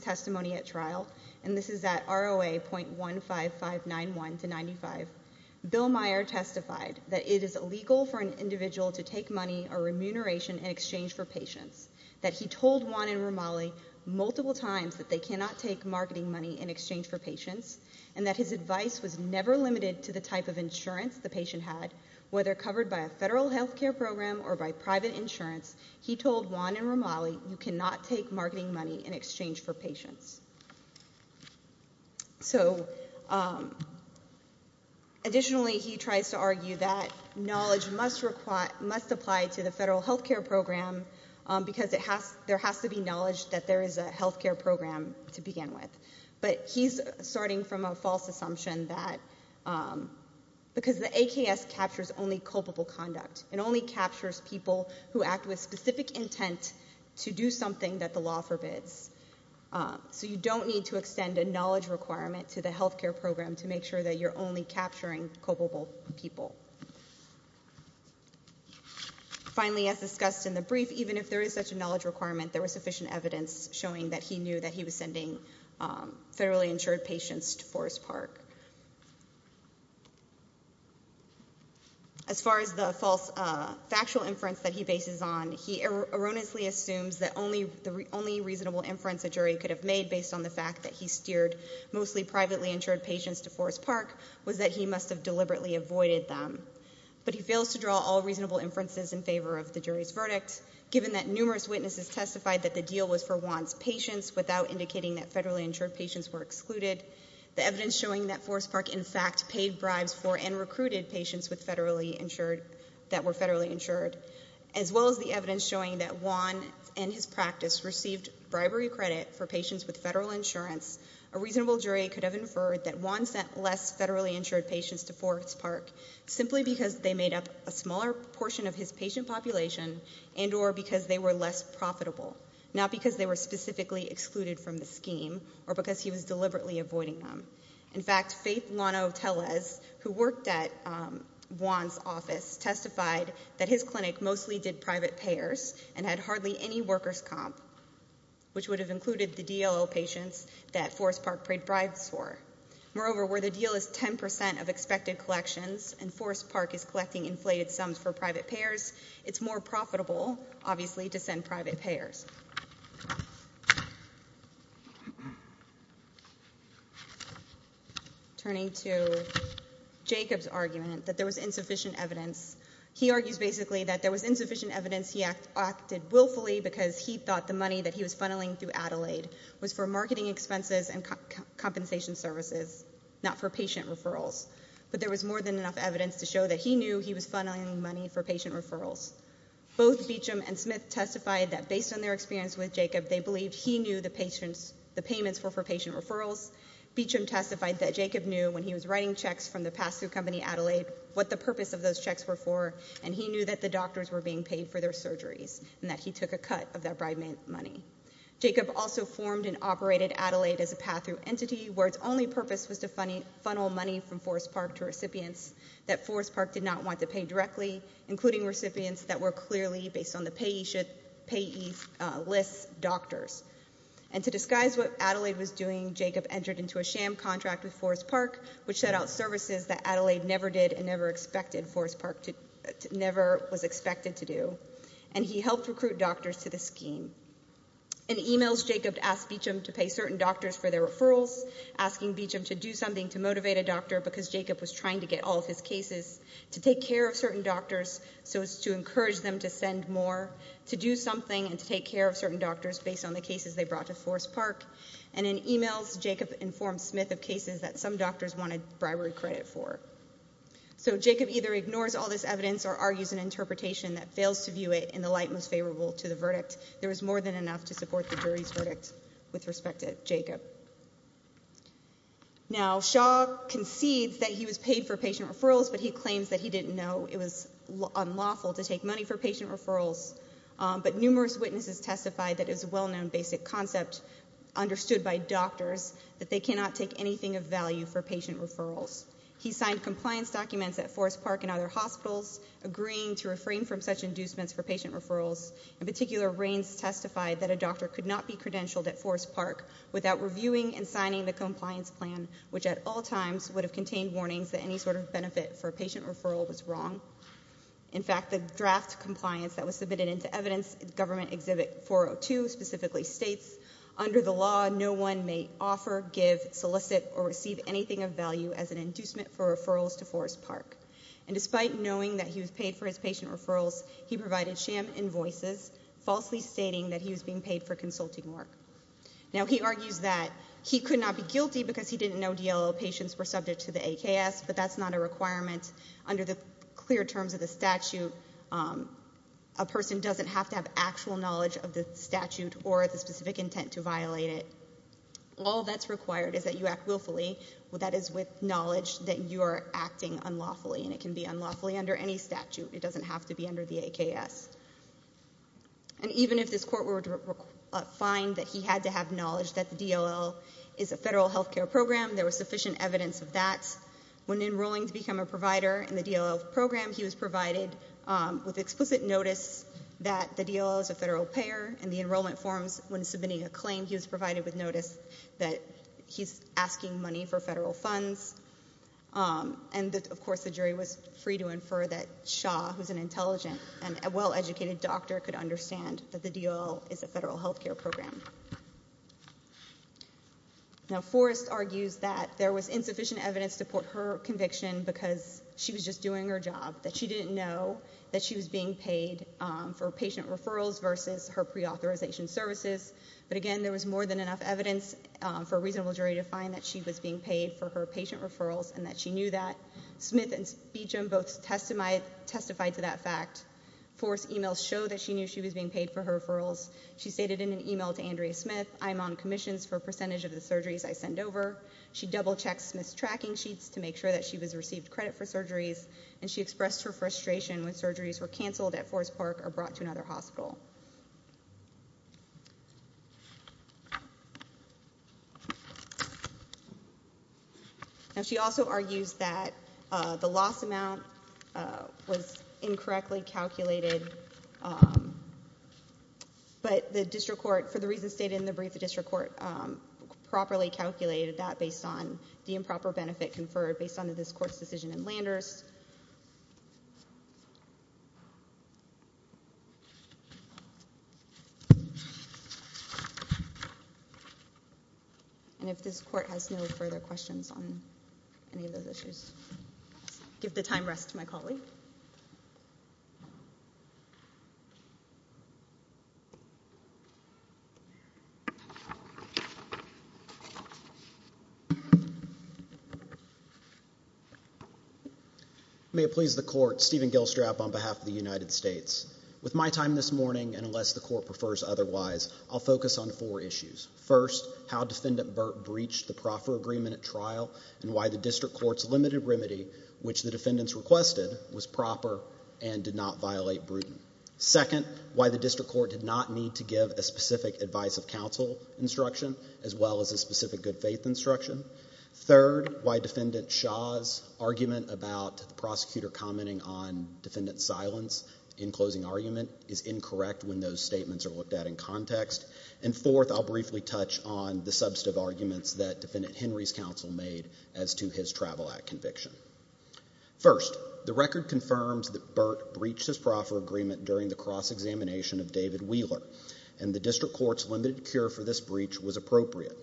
Bill Meyer testified that it is illegal for an individual to take money or remuneration in exchange for patients, that he told Juan and Romali multiple times that they cannot take marketing money in exchange for patients, and that his advice was never limited to the type of insurance the patient had, whether covered by a federal health care program or by private insurance, he told Juan and Romali you cannot take marketing money in exchange for patients. So, additionally, he tries to argue that knowledge must apply to the federal health care program because there has to be knowledge that there is a health care program to begin with. But he's starting from a false assumption that because the AKS captures only culpable conduct, it only captures people who act with specific intent to do something that the law forbids. So, you don't need to extend a knowledge requirement to the health care program to make sure that you're only capturing culpable people. Finally, as discussed in the brief, even if there is such a knowledge requirement, there was sufficient evidence showing that he knew that he was sending fairly insured patients to Forest Park. As far as the false factual inference that he bases on, he erroneously assumes that the only reasonable inference a jury could have made based on the fact that he steered mostly privately insured patients to Forest Park was that he must have deliberately avoided them. But he fails to draw all reasonable inferences in favor of the jury's verdict, given that numerous witnesses testified that the deal was for Juan's patients without indicating that federally insured patients were excluded, the evidence showing that Forest Park, in fact, paid bribes for and recruited patients that were federally insured, as well as the evidence showing that Juan and his practice received bribery credit for patients with federal insurance, a reasonable jury could have inferred that Juan sent less federally insured patients to Forest Park simply because they made up a smaller portion of his patient population and or because they were less profitable, not because they were specifically excluded from the scheme or because he was deliberately avoiding them. In fact, Faith Lano-Telez, who worked at Juan's office, testified that his and had hardly any workers comp, which would have included the DLO patients that Forest Park paid bribes for. Moreover, where the deal is 10 percent of expected collections and Forest Park is collecting inflated sums for private payers, it's more profitable, obviously, to send private payers. Turning to Jacob's argument that there was insufficient evidence, he argued basically that there was insufficient evidence he acted willfully because he thought the money that he was funneling through Adelaide was for marketing expenses and compensation services, not for patient referrals. But there was more than enough evidence to show that he knew he was funneling money for patient referrals. Both Beecham and Smith testified that based on their experience with Jacob, they believed he knew the patients, the payments were for patient referrals. Beecham testified that Jacob knew when he was writing checks from the pass-through company Adelaide what the purpose of those checks were for, and he knew that the doctors were being paid for their surgery and that he took a cut of that bribe money. Jacob also formed and operated Adelaide as a pass-through entity, where its only purpose was to funnel money from Forest Park to recipients that Forest Park did not want to pay directly, including recipients that were clearly, based on the payee list, doctors. And to disguise what Adelaide was doing, Jacob entered into a sham contract with Forest Park, which set out services that Adelaide never did and never expected Forest Park to, never was expected to do. And he helped recruit doctors to the scheme. In emails, Jacob asked Beecham to pay certain doctors for their referrals, asking Beecham to do something to motivate a doctor because Jacob was trying to get all of his cases, to take care of certain doctors so as to encourage them to send more, to do something and take care of certain doctors based on the cases they brought to Forest Park. And in So Jacob either ignores all this evidence or argues an interpretation that fails to view it in the light most favorable to the verdict. There is more than enough to support the jury's verdict with respect to Jacob. Now Shaw concedes that he was paid for patient referrals, but he claims that he didn't know it was unlawful to take money for patient referrals. But numerous witnesses testified that it was a well-known basic concept, understood by doctors, that they cannot take anything of value for patient referrals. He signed compliance documents at Forest Park and other hospitals, agreeing to refrain from such inducements for patient referrals. In particular, Raines testified that a doctor could not be credentialed at Forest Park without reviewing and signing the compliance plan, which at all times would have contained warnings that any sort of benefit for patient referral was wrong. In fact, the draft compliance that was submitted into evidence, Government Exhibit 402, specifically states, under the law, no one may offer, give, solicit, or receive anything of value as an inducement for referrals to Forest Park. And despite knowing that he was paid for his patient referrals, he provided sham invoices, falsely stating that he was being paid for consulting work. Now he argues that he could not be guilty because he didn't know DLO patients were subject to the AKS, but that's not a requirement under the clear terms of the statute. A person doesn't have to have actual knowledge of the statute or the specific intent to violate it. All that's required is that you act willfully. That is with knowledge that you are acting unlawfully, and it can be unlawfully under any statute. It doesn't have to be under the AKS. And even if this court were to find that he had to have knowledge that the DLO is a federal health care program, there was sufficient evidence of that, when enrolling to become a provider in the DLO's program, he was provided with explicit notice that the DLO is a federal payer, and the enrollment forms when submitting a claim, he was provided with notice that he's asking money for federal funds. And of course, the jury was free to infer that Shaw, who's an intelligent and well-educated doctor, could understand that the DLO is a federal health care program. Now, Forrest argues that there was insufficient evidence to support her conviction because she was just doing her job, that she didn't know that she was being paid for patient referrals versus her pre-authorization services. But again, there was more than enough evidence for a reasonable jury to find that she was being paid for her patient referrals and that she knew that. Smith and Spiechum both testified to that fact. Forrest's email showed that she knew she was being paid for her referrals. She stated in an email to Andrea Smith, I'm on commissions for a percentage of the surgeries I send over. She double-checked Smith's tracking sheet to make sure that she was received credit for surgeries, and she expressed her frustration when surgeries were canceled at Forrest Park or brought to another hospital. And she also argues that the loss amount was incorrectly calculated but the district court, for the reasons stated in the brief, the district court properly calculated that based on the improper benefit conferred based on the discourse decision in Landers. And if this court has no further questions on any of those issues, give the time rest to my colleague. May it please the court, Stephen Gilstrap on behalf of the United States. With my time this morning, and unless the court prefers otherwise, I'll focus on four issues. First, how defendant Burt breached the proffer agreement at trial and why the district court's limited remedy, which the defendants requested, was proper and did not violate Bruton. Second, why the district court did not need to give a specific advice of counsel instruction, as well as a specific good faith instruction. Third, why defendant Shaw's argument about prosecutor commenting on defendant's silence in closing argument is incorrect when those statements are looked at in context. And fourth, I'll briefly touch on the substantive arguments that defendant Henry's counsel made as to his travel act conviction. First, the record confirms that Burt breached his proffer agreement during the cross-examination of David Wheeler, and the district court's limited cure for this breach was appropriate.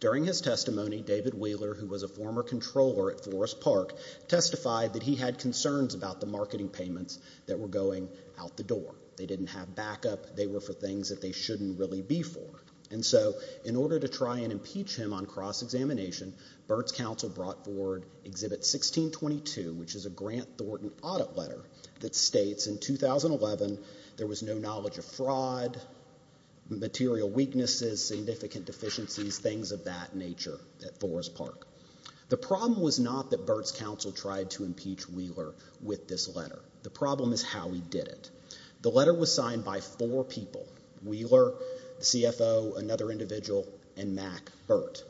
During his testimony, David Wheeler, who was a former controller at Forest Park, testified that he had concerns about the marketing payments that were going out the door. They didn't have backup. They were for him on cross-examination. Burt's counsel brought forward Exhibit 1622, which is a Grant Thornton audit letter that states in 2011, there was no knowledge of fraud, material weaknesses, significant deficiency, things of that nature at Forest Park. The problem was not that Burt's counsel tried to impeach Wheeler with this letter. The problem is how he did it. The letter was signed by four people. Wheeler, CFO, another individual, and Mack Burt.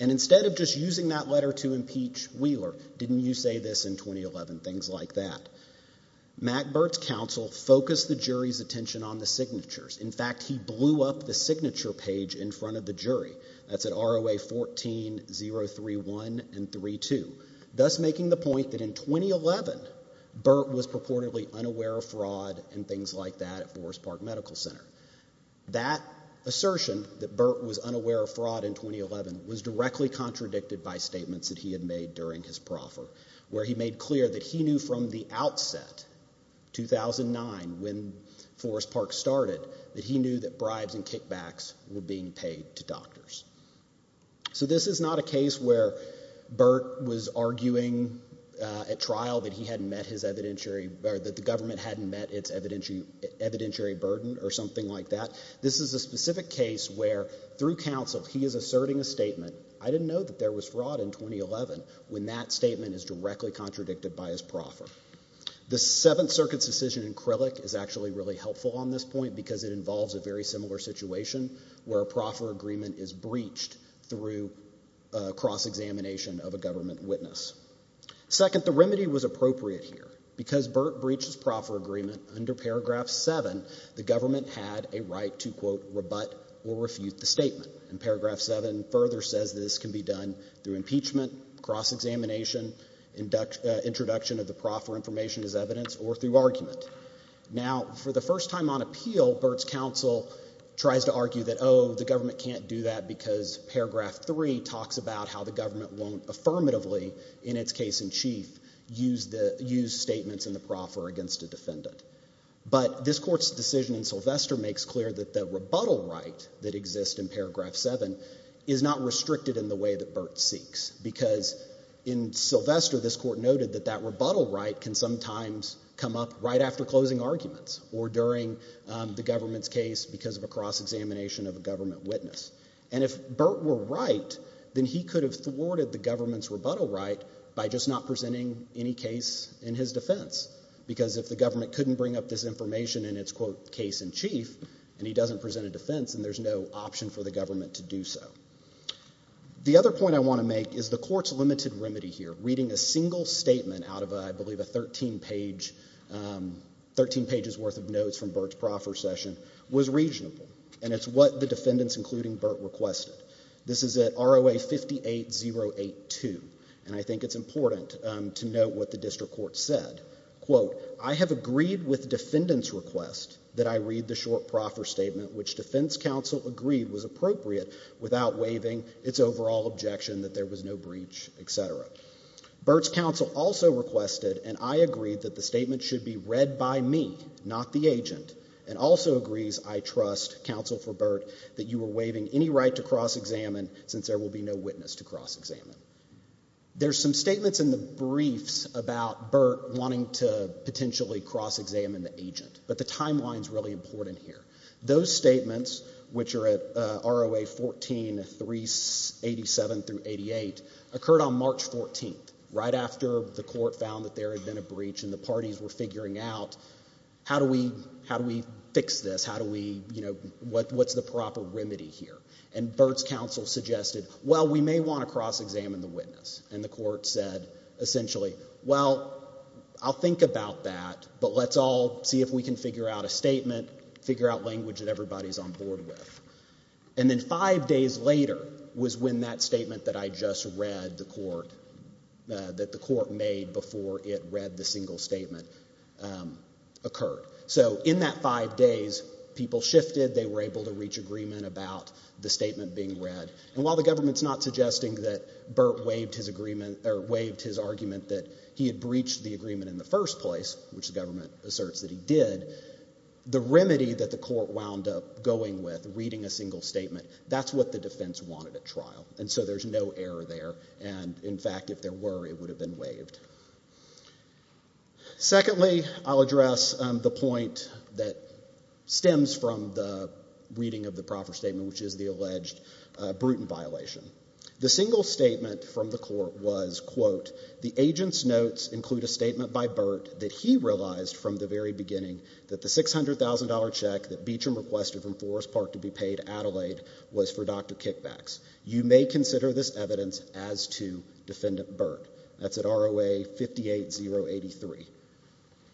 And instead of just using that letter to impeach Wheeler, didn't you say this in 2011? Things like that. Mack Burt's counsel focused the jury's attention on the signatures. In fact, he blew up the signature page in front of the jury. That's at ROA 14-031 and 32, thus making the point that in 2011, Burt was purportedly unaware of fraud and things like that at Forest Park Medical Center. That assertion, that Burt was unaware of fraud in 2011, was directly contradicted by statements that he had made during his proffer, where he made clear that he knew from the outset, 2009, when Forest Park started, that he knew that bribes and kickbacks were being paid to doctors. So this is not a case where Burt was arguing at trial that he hadn't met his evidentiary, or that the government hadn't met its evidentiary burden or something like that. This is a specific case where, through counsel, he is asserting a statement, I didn't know that there was fraud in 2011, when that statement is directly contradicted by his proffer. The Seventh Circuit's decision in Crillick is actually really helpful on this point because it involves a very similar situation where a proffer agreement is breached through cross-examination of a government witness. Second, the remedy was appropriate here. Because Burt breaches proffer agreement, under Paragraph 7, the government had a right to, quote, rebut or refute the statement. And Paragraph 7 further says this can be done through impeachment, cross-examination, introduction of the proffer information as evidence, or through argument. Now, for the first time on appeal, Burt's counsel tries to argue that, oh, the government can't do that because Paragraph 3 talks about how the government won't affirmatively, in its case in chief, use statements in the proffer against a defendant. But this Court's decision in Sylvester makes clear that the rebuttal right that exists in Paragraph 7 is not restricted in the way that Burt seeks. Because in Sylvester, this Court noted that that rebuttal right can sometimes come up right after closing arguments or during the government's case because of a cross-examination of a government witness. And if Burt were right, then he could have thwarted the government's rebuttal right by just not presenting any case in his defense. Because if the government couldn't bring up this information in its, quote, case in chief, and he doesn't present a defense, then there's no option for the government to do so. The other point I want to make is the Court's limited remedy here, reading a single statement out of, I believe, a 13-page, 13 pages worth of notes from Burt's proffer session, was reasonable. And it's what the defendants, including Burt, requested. This is at ROA 58082. And I think it's important to note what the District Court said. Quote, I have agreed with defendant's request that I read the short proffer statement which defense counsel agreed was appropriate without waiving its overall objection that there was no breach, etc. Burt's counsel also requested, and I agreed, that the statement be read by me, not the agent, and also agrees, I trust, counsel for Burt, that you were waiving any right to cross-examine since there will be no witness to cross-examine. There's some statements in the briefs about Burt wanting to potentially cross-examine the agent. But the timeline's really important here. Those statements, which are at ROA 14387 through 88, occurred on how do we fix this? How do we, you know, what's the proper remedy here? And Burt's counsel suggested, well, we may want to cross-examine the witness. And the court said, essentially, well, I'll think about that, but let's all see if we can figure out a statement, figure out language that everybody's on board with. And then five days later was when that statement that I just read the court, that the court made before it read the single statement, occurred. So in that five days, people shifted. They were able to reach agreement about the statement being read. And while the government's not suggesting that Burt waived his agreement, or waived his argument that he had breached the agreement in the first place, which the government asserts that he did, the remedy that the court wound up going with, reading a single statement, that's what the defense wanted at trial. And so there's no error there. And in fact, if there were, it would have been waived. Secondly, I'll address the point that stems from the reading of the proper statement, which is the alleged Bruton violation. The single statement from the court was, quote, the agent's notes include a statement by Burt that he realized from the very beginning that the $600,000 check that this evidence as to Defendant Burt. That's at ROA 58083.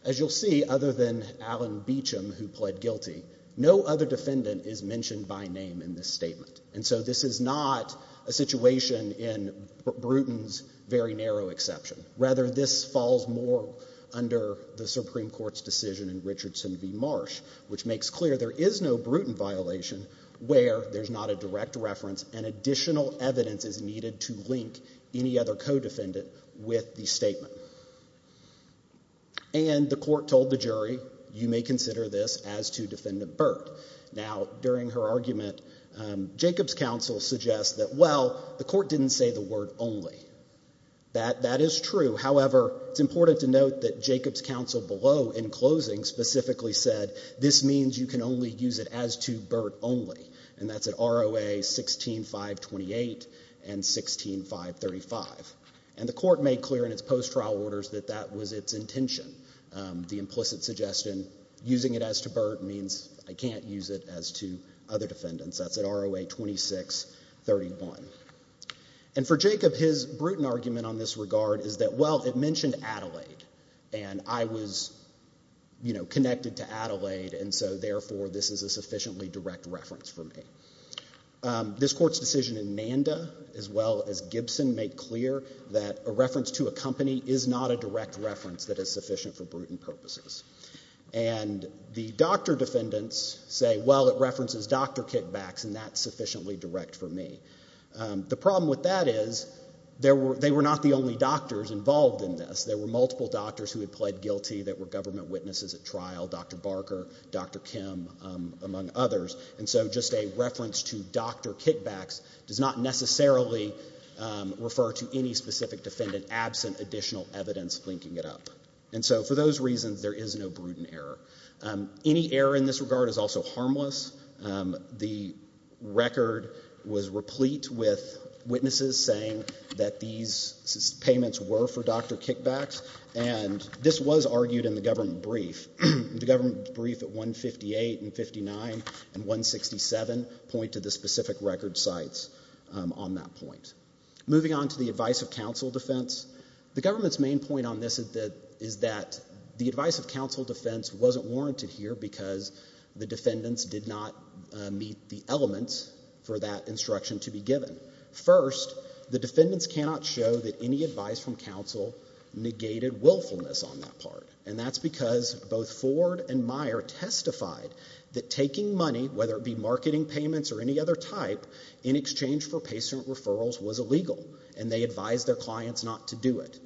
As you'll see, other than Allen Beecham, who pled guilty, no other defendant is mentioned by name in this statement. And so this is not a situation in Bruton's very narrow exception. Rather, this falls more under the Supreme Court's decision in Richardson v. Marsh, which makes clear there is no Bruton violation where there's not a Bruton violation, and therefore, no evidence is needed to link any other co-defendant with the statement. And the court told the jury, you may consider this as to Defendant Burt. Now, during her argument, Jacobs' counsel suggests that, well, the court didn't say the word only. That is true. However, it's important to note that Jacobs' counsel below, in closing, specifically said this means you can use it as to Burt only, and that's at ROA 16528 and 16535. And the court made clear in its post trial orders that that was its intention. The implicit suggestion, using it as to Burt means I can't use it as to other defendants. That's at ROA 2631. And for Jacobs, his Bruton argument on this regard is that, well, it mentioned Adelaide, and I was, you know, connected to Adelaide, and so, therefore, this is a sufficiently direct reference for me. This Court's decision in Manda, as well as Gibson, made clear that a reference to a company is not a direct reference that is sufficient for Bruton purposes. And the doctor defendants say, well, it references Dr. Kitbacks, and that's sufficiently direct for me. The problem with that is they were not the only doctors involved in this. There were multiple doctors who had pled guilty that were government trial, Dr. Barker, Dr. Kim, among others. And so, just a reference to Dr. Kitbacks does not necessarily refer to any specific defendant absent additional evidence linking it up. And so, for those reasons, there is no Bruton error. Any error in this regard is also harmless. The record was replete with witnesses saying that these payments were for Dr. Kitbacks, and this was argued in the government brief. The government brief at 158 and 59 and 167 pointed to specific record sites on that point. Moving on to the advice of counsel defense, the government's main point on this is that the advice of counsel defense wasn't warranted here because the defendants did not meet the elements for that instruction to be given. First, the defendants cannot show that any advice from counsel negated willfulness on that part, and that's because both Ford and Meyer testified that taking money, whether it be marketing payments or any other type, in exchange for patient referrals was illegal, and they advised their clients not to do it.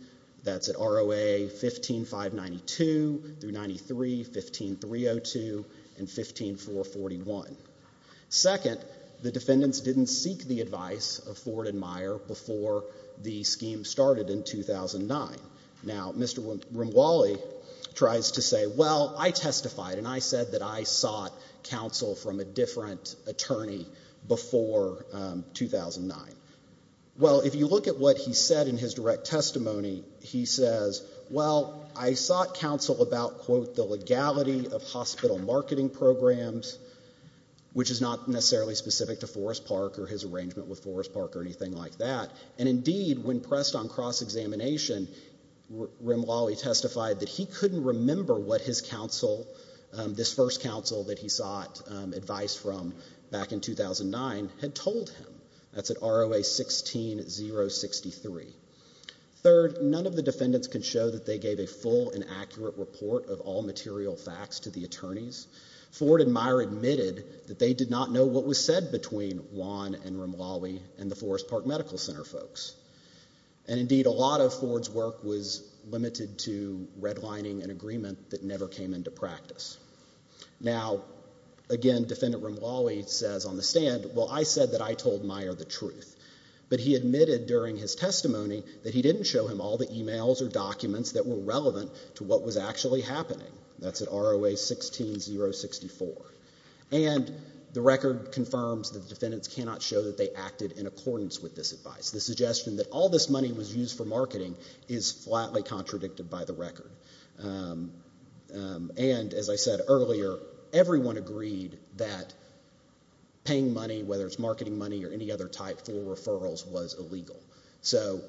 That's at ROA 15592, 393, 15302, and 15441. Second, the defendants didn't seek the advice of Ford and Meyer before the scheme started in 2009. Now, Mr. Rumwally tries to say, well, I testified, and I said that I sought counsel from a different attorney before 2009. Well, if you look at what he said in his direct testimony, he says, well, I sought counsel about, quote, the legality of hospital marketing programs, which is not necessarily specific to Forest Park or his arrangement with Forest Park or anything like that. And indeed, when pressed on cross-examination, Rumwally testified that he couldn't remember what his counsel, this first counsel that he sought advice from back in 2009, had told him. That's at ROA 16063. Third, none of the defendants could show that they gave a full and accurate report of all material facts to the attorneys. Ford and Meyer admitted that they did not know what was said between Juan and Rumwally and the Forest Park Medical Center folks. And indeed, a lot of Ford's work was limited to redlining an agreement that never came into practice. Now, again, Defendant Rumwally says on the stand, well, I said that I told Meyer the truth, but he admitted during his testimony that he didn't show him all the emails or documents that were relevant to what was actually happening. That's at ROA 16064. And the record confirms that defendants cannot show that they acted in accordance with this advice. The suggestion that all this money was used for marketing is flatly contradicted by the record. And as I said earlier, everyone agreed that paying money, whether it's marketing money or any other type, for referrals was illegal. So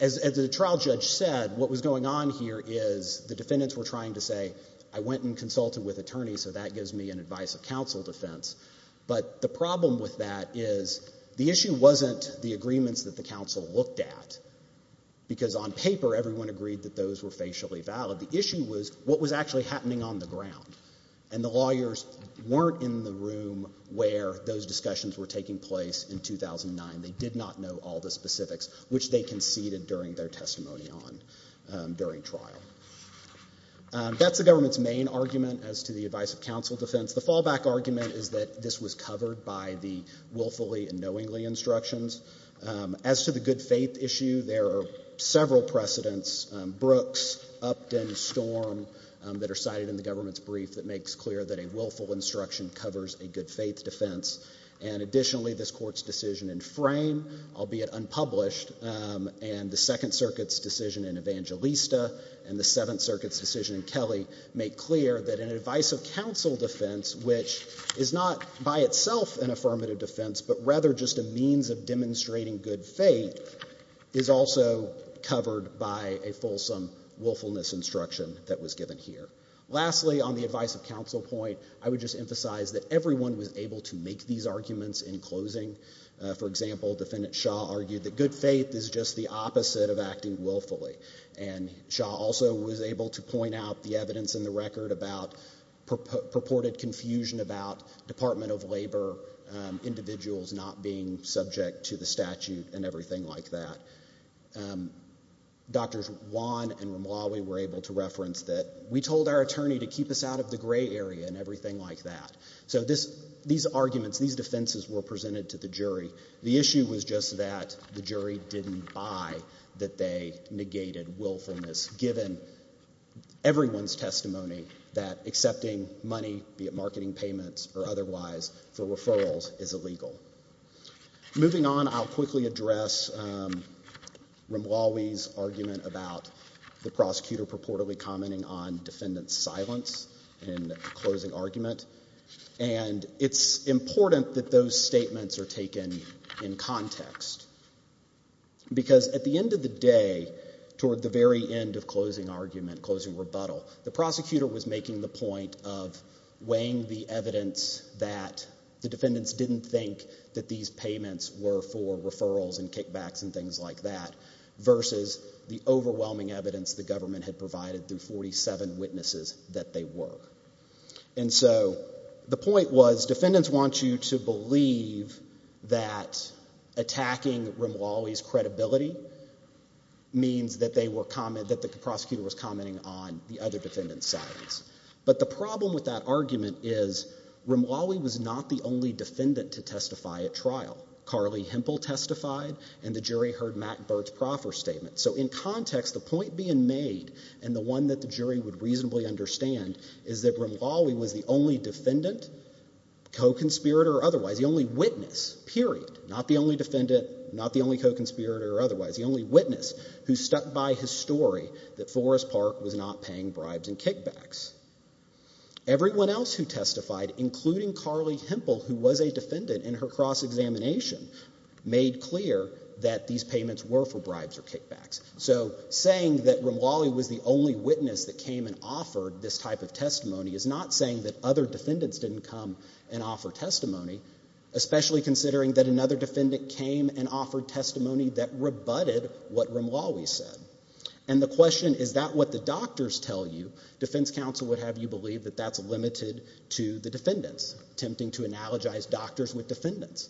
as the trial judge said, what was going on here is the defendants were trying to say, I went and consulted with attorneys, so that gives me an advice of counsel defense. But the problem with that is the issue wasn't the agreements that the counsel looked at, because on paper, everyone agreed that those were facially valid. The issue was what was actually happening on the ground. And the lawyers weren't in the room where those discussions were taking place in 2009. They did not know all the specifics, which they conceded during their testimony during trial. That's the government's main argument as to the advice of counsel defense. The fallback argument is that this was covered by the willfully and knowingly instructions. As to the good faith issue, there are several precedents, Brooks, Upton, Storm, that are cited in the government's brief that makes clear that a willful instruction covers a good faith defense. And additionally, this court's decision in Frame, albeit unpublished, and the Second Circuit's decision in Evangelista, and the Seventh Circuit's decision in Kelly make clear that an advice of counsel defense, which is not by itself an affirmative defense, but rather just a means of demonstrating good faith, is also covered by a fulsome willfulness instruction that was given here. Lastly, on the advice of counsel point, I would just emphasize that everyone was able to make these arguments in closing. For example, Defendant Shaw argued that good faith is just the opposite of acting willfully. And Shaw also was able to point out the evidence in the record about purported confusion about Department of Labor individuals not being subject to the statute and everything like that. Drs. Wan and Romali were able to reference that we told our attorney to keep us out of the gray area and everything like that. So these arguments, these defenses were presented to the jury. The issue was just that the jury didn't buy that they negated willfulness, given everyone's testimony that accepting money, be it marketing payments or otherwise, for referrals is illegal. Moving on, I'll quickly address Romali's argument about the prosecutor purportedly commenting on defendant's silence in the closing argument. And it's important that those statements are taken in context. Because at the end of the day, toward the very end of closing argument, closing rebuttal, the prosecutor was making the point of weighing the evidence that the defendants didn't think that these payments were for referrals and the overwhelming evidence the government had provided through 47 witnesses that they were. And so the point was defendants want you to believe that attacking Romali's credibility means that the prosecutor was commenting on the other defendants' silence. But the problem with that argument is Romali was not the only defendant to testify at trial. Carly Hempel testified, and the jury heard Matt Bird's proper statement. So in context, the point being made, and the one that the jury would reasonably understand, is that Romali was the only defendant, co-conspirator or otherwise, the only witness, period. Not the only defendant, not the only co-conspirator or otherwise. The only witness who stepped by his story that Forrest Park was not paying bribes and kickbacks. Everyone else who testified, including Carly Hempel, who was a defendant in her cross-examination, made clear that these payments were for bribes or kickbacks. So saying that Romali was the only witness that came and offered this type of testimony is not saying that other defendants didn't come and offer testimony, especially considering that another defendant came and offered testimony that rebutted what Romali said. And the question, is that what the doctors tell you? Defense counsel would have you believe that that's limited to the defendants, attempting to analogize doctors with defendants.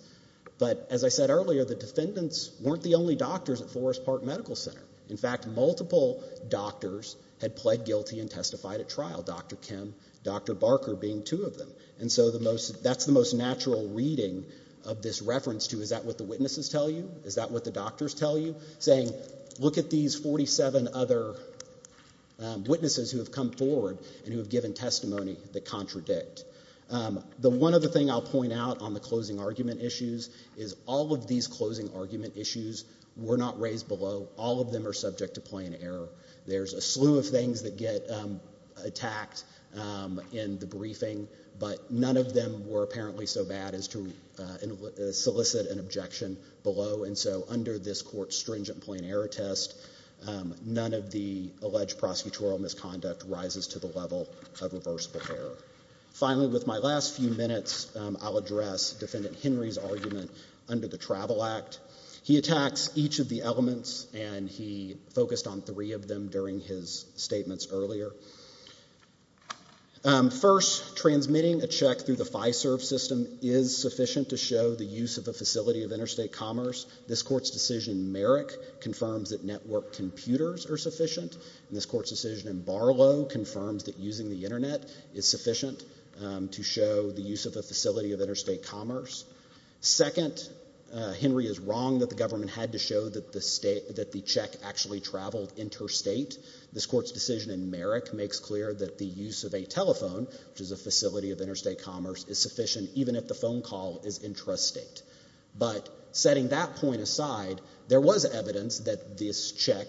But as I said earlier, the defendants weren't the only doctors at Forrest Park Medical Center. In fact, multiple doctors had pled guilty and testified at trial, Dr. Kim, Dr. Barker being two of them. And so the most, that's the most natural reading of this reference to, is that what the witnesses tell you? Is that what the doctors tell you? Saying, look at these 47 other witnesses who have come forward and who have given testimony that contradict. The one other thing I'll point out on the closing argument issues is all of these closing argument issues were not raised below. All of them are subject to plain error. There's a slew of things that get attacked in the briefing, but none of them were apparently so bad as to solicit an objection below. And so under this court's stringent plain error test, none of the alleged prosecutorial misconduct rises to the level of reversible error. Finally, with my last few minutes, I'll address Defendant Henry's argument under the Travel Act. He attacks each of the elements, and he focused on three of them during his statements earlier. First, transmitting a check through the FISERV system is sufficient to show the use of a facility of interstate commerce. This court's decision in Merrick confirms that network computers are sufficient. And this court's decision in Barlow confirms that using the internet is sufficient to show the use of a facility of interstate commerce. Second, Henry is wrong that the government had to show that the check actually traveled interstate. This court's decision in Merrick makes clear that the use of a telephone, which is a facility of interstate commerce, is sufficient even if the phone call is intrastate. But setting that point aside, there was evidence that this check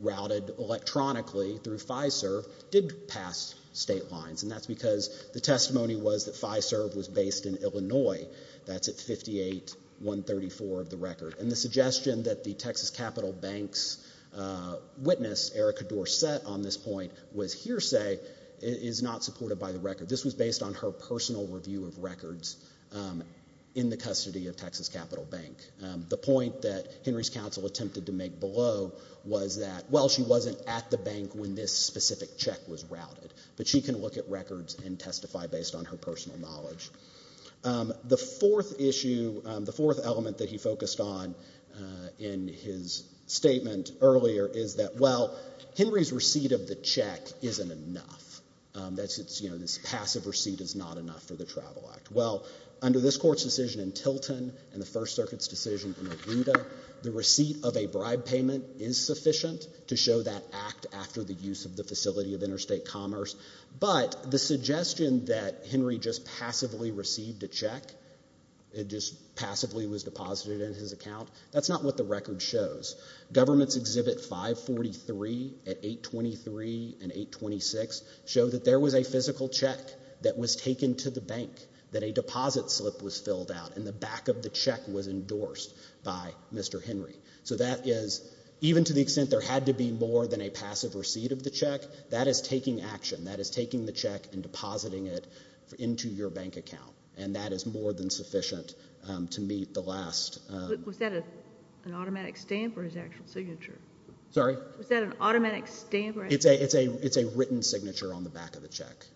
routed electronically through FISERV did pass state lines, and that's because the testimony was that FISERV was based in Illinois. That's at 58-134 of the record. And the suggestion that the Texas Capital Bank's Erika Dorsett on this point was hearsay is not supported by the record. This was based on her personal review of records in the custody of Texas Capital Bank. The point that Henry's counsel attempted to make below was that, well, she wasn't at the bank when this specific check was routed, but she can look at records and testify based on her personal knowledge. The fourth issue, the fourth element that he focused on in his statement earlier is that, well, Henry's receipt of the check isn't enough. That's, you know, his passive receipt is not enough for the travel act. Well, under this court's decision in Tilton and the First Circuit's decision in Agenda, the receipt of a bribe payment is sufficient to show that act after the use of the facility of interstate commerce, but the suggestion that Henry just passively received a check, it just passively was deposited in his account, that's not what the record shows. Government's Exhibit 543 at 823 and 826 showed that there was a physical check that was taken to the bank, that a deposit slip was filled out, and the back of the check was endorsed by Mr. Henry. So that is, even to the extent there had to be more than a passive receipt of the check, that is taking action. That is taking the check and depositing it into your account. So that is more than sufficient to meet the last... Was that an automatic stand for his actual signature? Sorry? Was that an automatic stand for his... It's a written signature on the back of the check.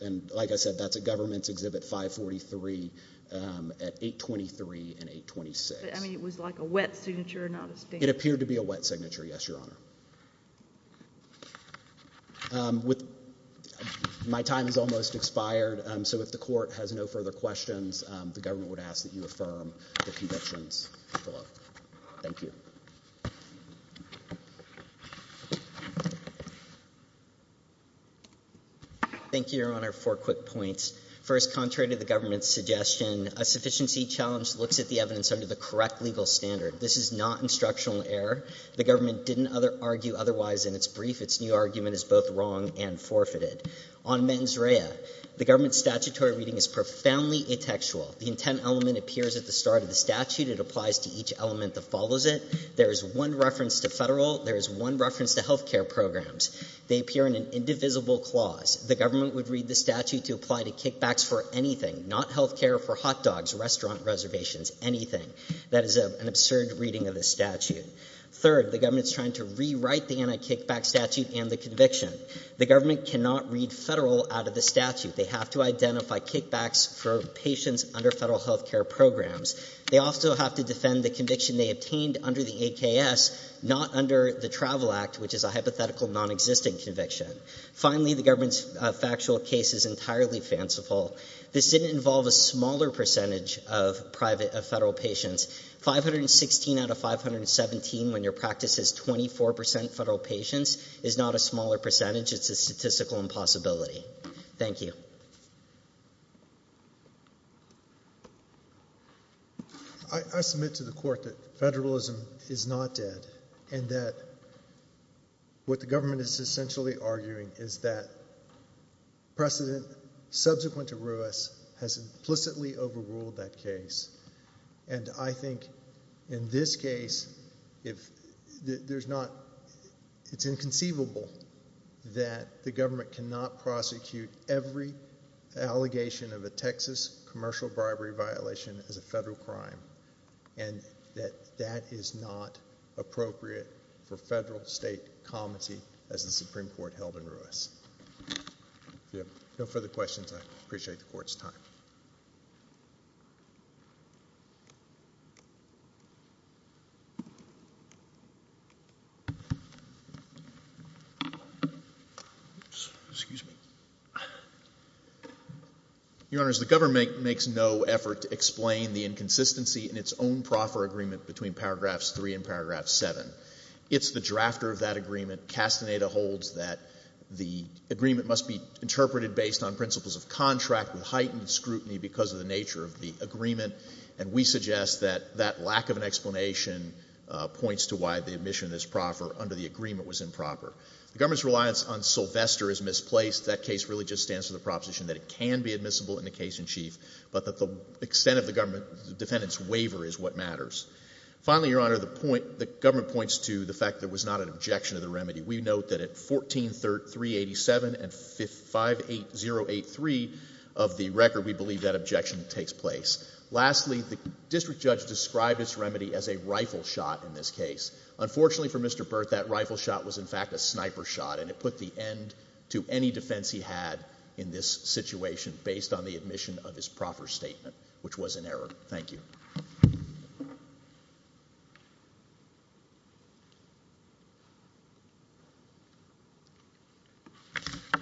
And like I said, that's a Government's Exhibit 543 at 823 and 826. I mean, it was like a wet signature, not a stand. It appeared to be a wet signature, yes, Your Honor. My time has almost expired, so if the Court has no further questions, the Government would ask that you affirm the conditions for them. Thank you. Thank you, Your Honor. Four quick points. First, contrary to the Government's suggestion, a sufficiency challenge looked at the evidence under the correct legal standard. This is not instructional error. The Government didn't argue otherwise in its brief. Its new argument is both wrong and forfeited. On mens rea, the Government's statutory reading is profoundly intextual. The intent element appears at the start of the statute. It applies to each element that follows it. There is one reference to federal. There is one reference to health care programs. They appear in an indivisible clause. The Government would read the statute to apply to kickbacks for anything, not health care for hot dogs, restaurant reservations, anything. That is an absurd reading of the statute. Third, the Government is trying to rewrite the anti-kickback statute and the conviction. The Government cannot read federal out of the statute. They have to identify kickbacks for patients under federal health care programs. They also have to defend the conviction they obtained under the AKS, not under the Travel Act, which is a hypothetical, non-existent conviction. Finally, the Government's federal patients. 516 out of 517 when your practice is 24% federal patients is not a smaller percentage. It's a statistical impossibility. Thank you. I submit to the Court that federalism is not dead and that what the Government is essentially arguing is that precedent subsequent to Ruess has implicitly overruled that case. I think in this case, it's inconceivable that the Government cannot prosecute every allegation of a Texas commercial bribery violation as a federal crime and that that is not appropriate for federal state comity as the Supreme Court held in Ruess. No further questions. I appreciate the Court's time. Excuse me. Your Honors, the Government makes no effort to explain the inconsistency in its own proffer agreement between Paragraphs 3 and Paragraph 7. It's the drafter of that agreement. Castaneda holds that the agreement must be interpreted based on principles of contract with heightened scrutiny because of the nature of the agreement, and we suggest that that lack of an explanation points to why the admission of this proffer under the agreement was improper. The Government's reliance on Sylvester is misplaced. That case really just stands for the proposition that it can be admissible in the case in chief, but that extent of the defendant's waiver is what matters. Finally, Your Honor, the Government points to the fact that there was not an objection to the remedy. We note that at 14387 and 58083 of the record, we believe that objection takes place. Lastly, the District Judge described this remedy as a rifle shot in this case. Unfortunately for Mr. Burt, that rifle shot was in fact a sniper shot, and it put the end to any defense he had in this situation based on the admission of his proffer statement, which was an error. Thank you.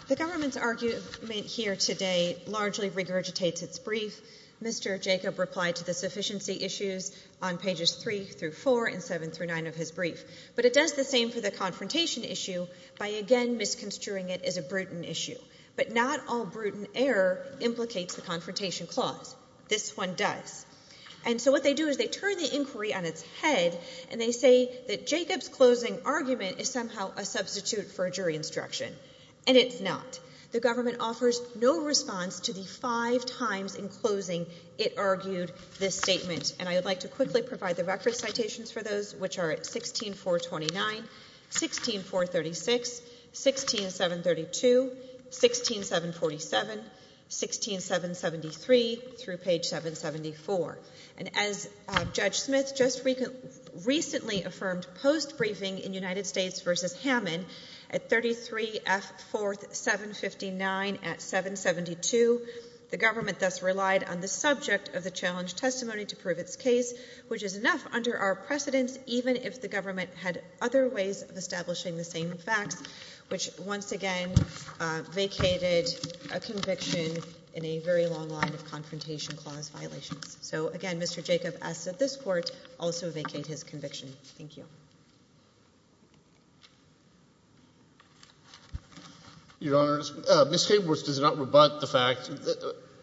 The Government's argument here today largely regurgitates its brief. Mr. Jacob replied to the sufficiency issues on pages 3 through 4 and 7 through 9 of his brief, but it does the same for the confrontation issue by again misconstruing it as a Bruton issue, but not all Bruton error implicates the confrontation clause. This one does. And so what they do is they turn the inquiry on its head, and they say that Jacob's closing argument is somehow a substitute for a jury instruction, and it's not. The Government offers no response to the five times in closing it argued this statement, and I would like to quickly provide the reference citations for those, which are at 16-429, 16-436, 16-732, 16-747, 16-773 through page 774. And as Judge Smith just recently affirmed post-briefing in United States v. Hammond, at 33 F. 4759 at 772, the Government thus relied on the subject of the challenge testimony to prove its case, which is enough under our precedence even if the Government had other ways of establishing the same fact, which once again vacated a conviction in a very long line of confrontation clause violations. So again, Mr. Jacob asks that this Court also vacate his conviction. Thank you. Your Honor, Ms. Hayworth does not rebut the fact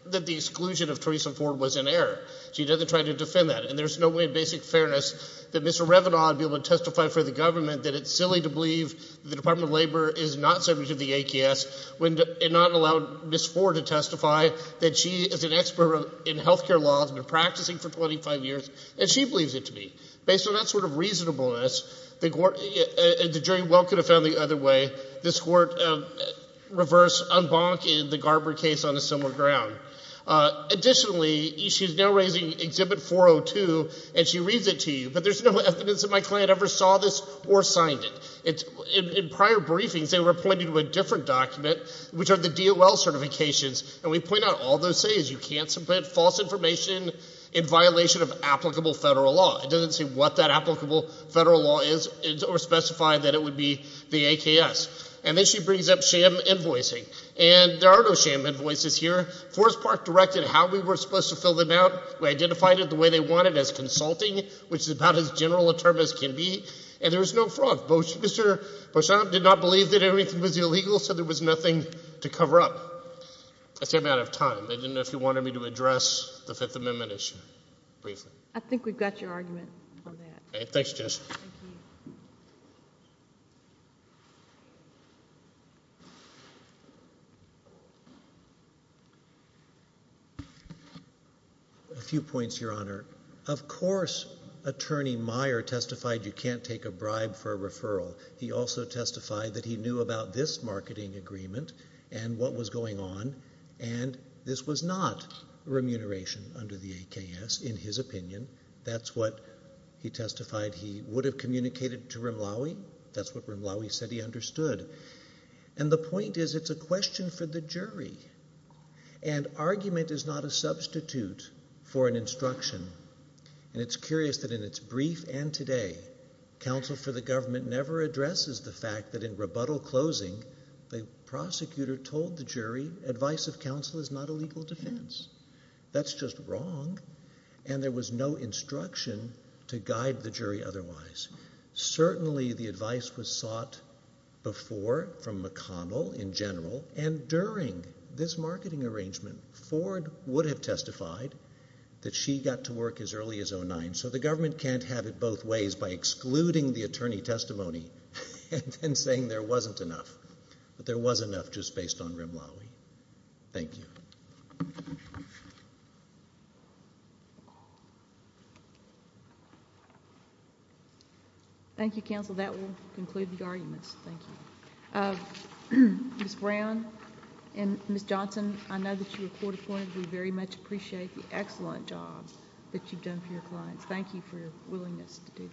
that the exclusion of Theresa Ford was an error. She doesn't try to defend that, and there's no way of basic fairness that Mr. Revenant would be able to testify for the Government that it's silly to believe the Department of Labor is not subject to the ATS and not allow Ms. Ford to testify that she is an expert in health care law, has been practicing for 25 years, and she believes it to be. Based on that sort of reasonableness, and the jury welcome the family either way, this Court reversed, unbonked the Garber case on a similar ground. Additionally, she's now raising Exhibit 402, and she reads it to you, but there's no evidence that my client ever saw this or signed it. In prior briefings, they were pointing to a different document, which are the DOL certifications, and we point out all those things. You can't submit false information in violation of applicable federal law. It doesn't say what that applicable federal law is or specify that it would be the ATS. And then she brings up sham invoicing, and there are no sham invoices here. Forest Park directed how we were supposed to fill them out. We identified it the way they wanted, as consulting, which is about as general a term as can be, and there was no fraud. Both Mr. Revenant did not believe that anything was illegal, so there was nothing to cover up. I came out of time. I didn't know if you wanted me to address the Fifth Amendment issue. I think we've got your argument on that. A few points, Your Honor. Of course, Attorney Meyer testified you can't take a bribe for a referral. He also testified that he knew about this marketing agreement and what was going on, and this was not remuneration under the ATS, in his opinion. That's what he testified he would have communicated to Rimlawi. That's what Rimlawi said he understood, and the point is it's a question for the jury, and argument is not a substitute for an instruction, and it's curious that in its brief and today, counsel for the government never addresses the fact that in counsel is not a legal defense. That's just wrong, and there was no instruction to guide the jury otherwise. Certainly, the advice was sought before from McConnell in general, and during this marketing arrangement, Ford would have testified that she got to work as early as 09, so the government can't have it both ways by excluding the attorney testimony and saying there wasn't enough, but there was enough just based on Rimlawi. Thank you. Thank you, counsel. That will conclude the argument. Thank you. Ms. Brown and Ms. Johnson, I know that you were court-appointed. We very much appreciate the excellent job that you've done for your client. Thank you for your willingness to testify.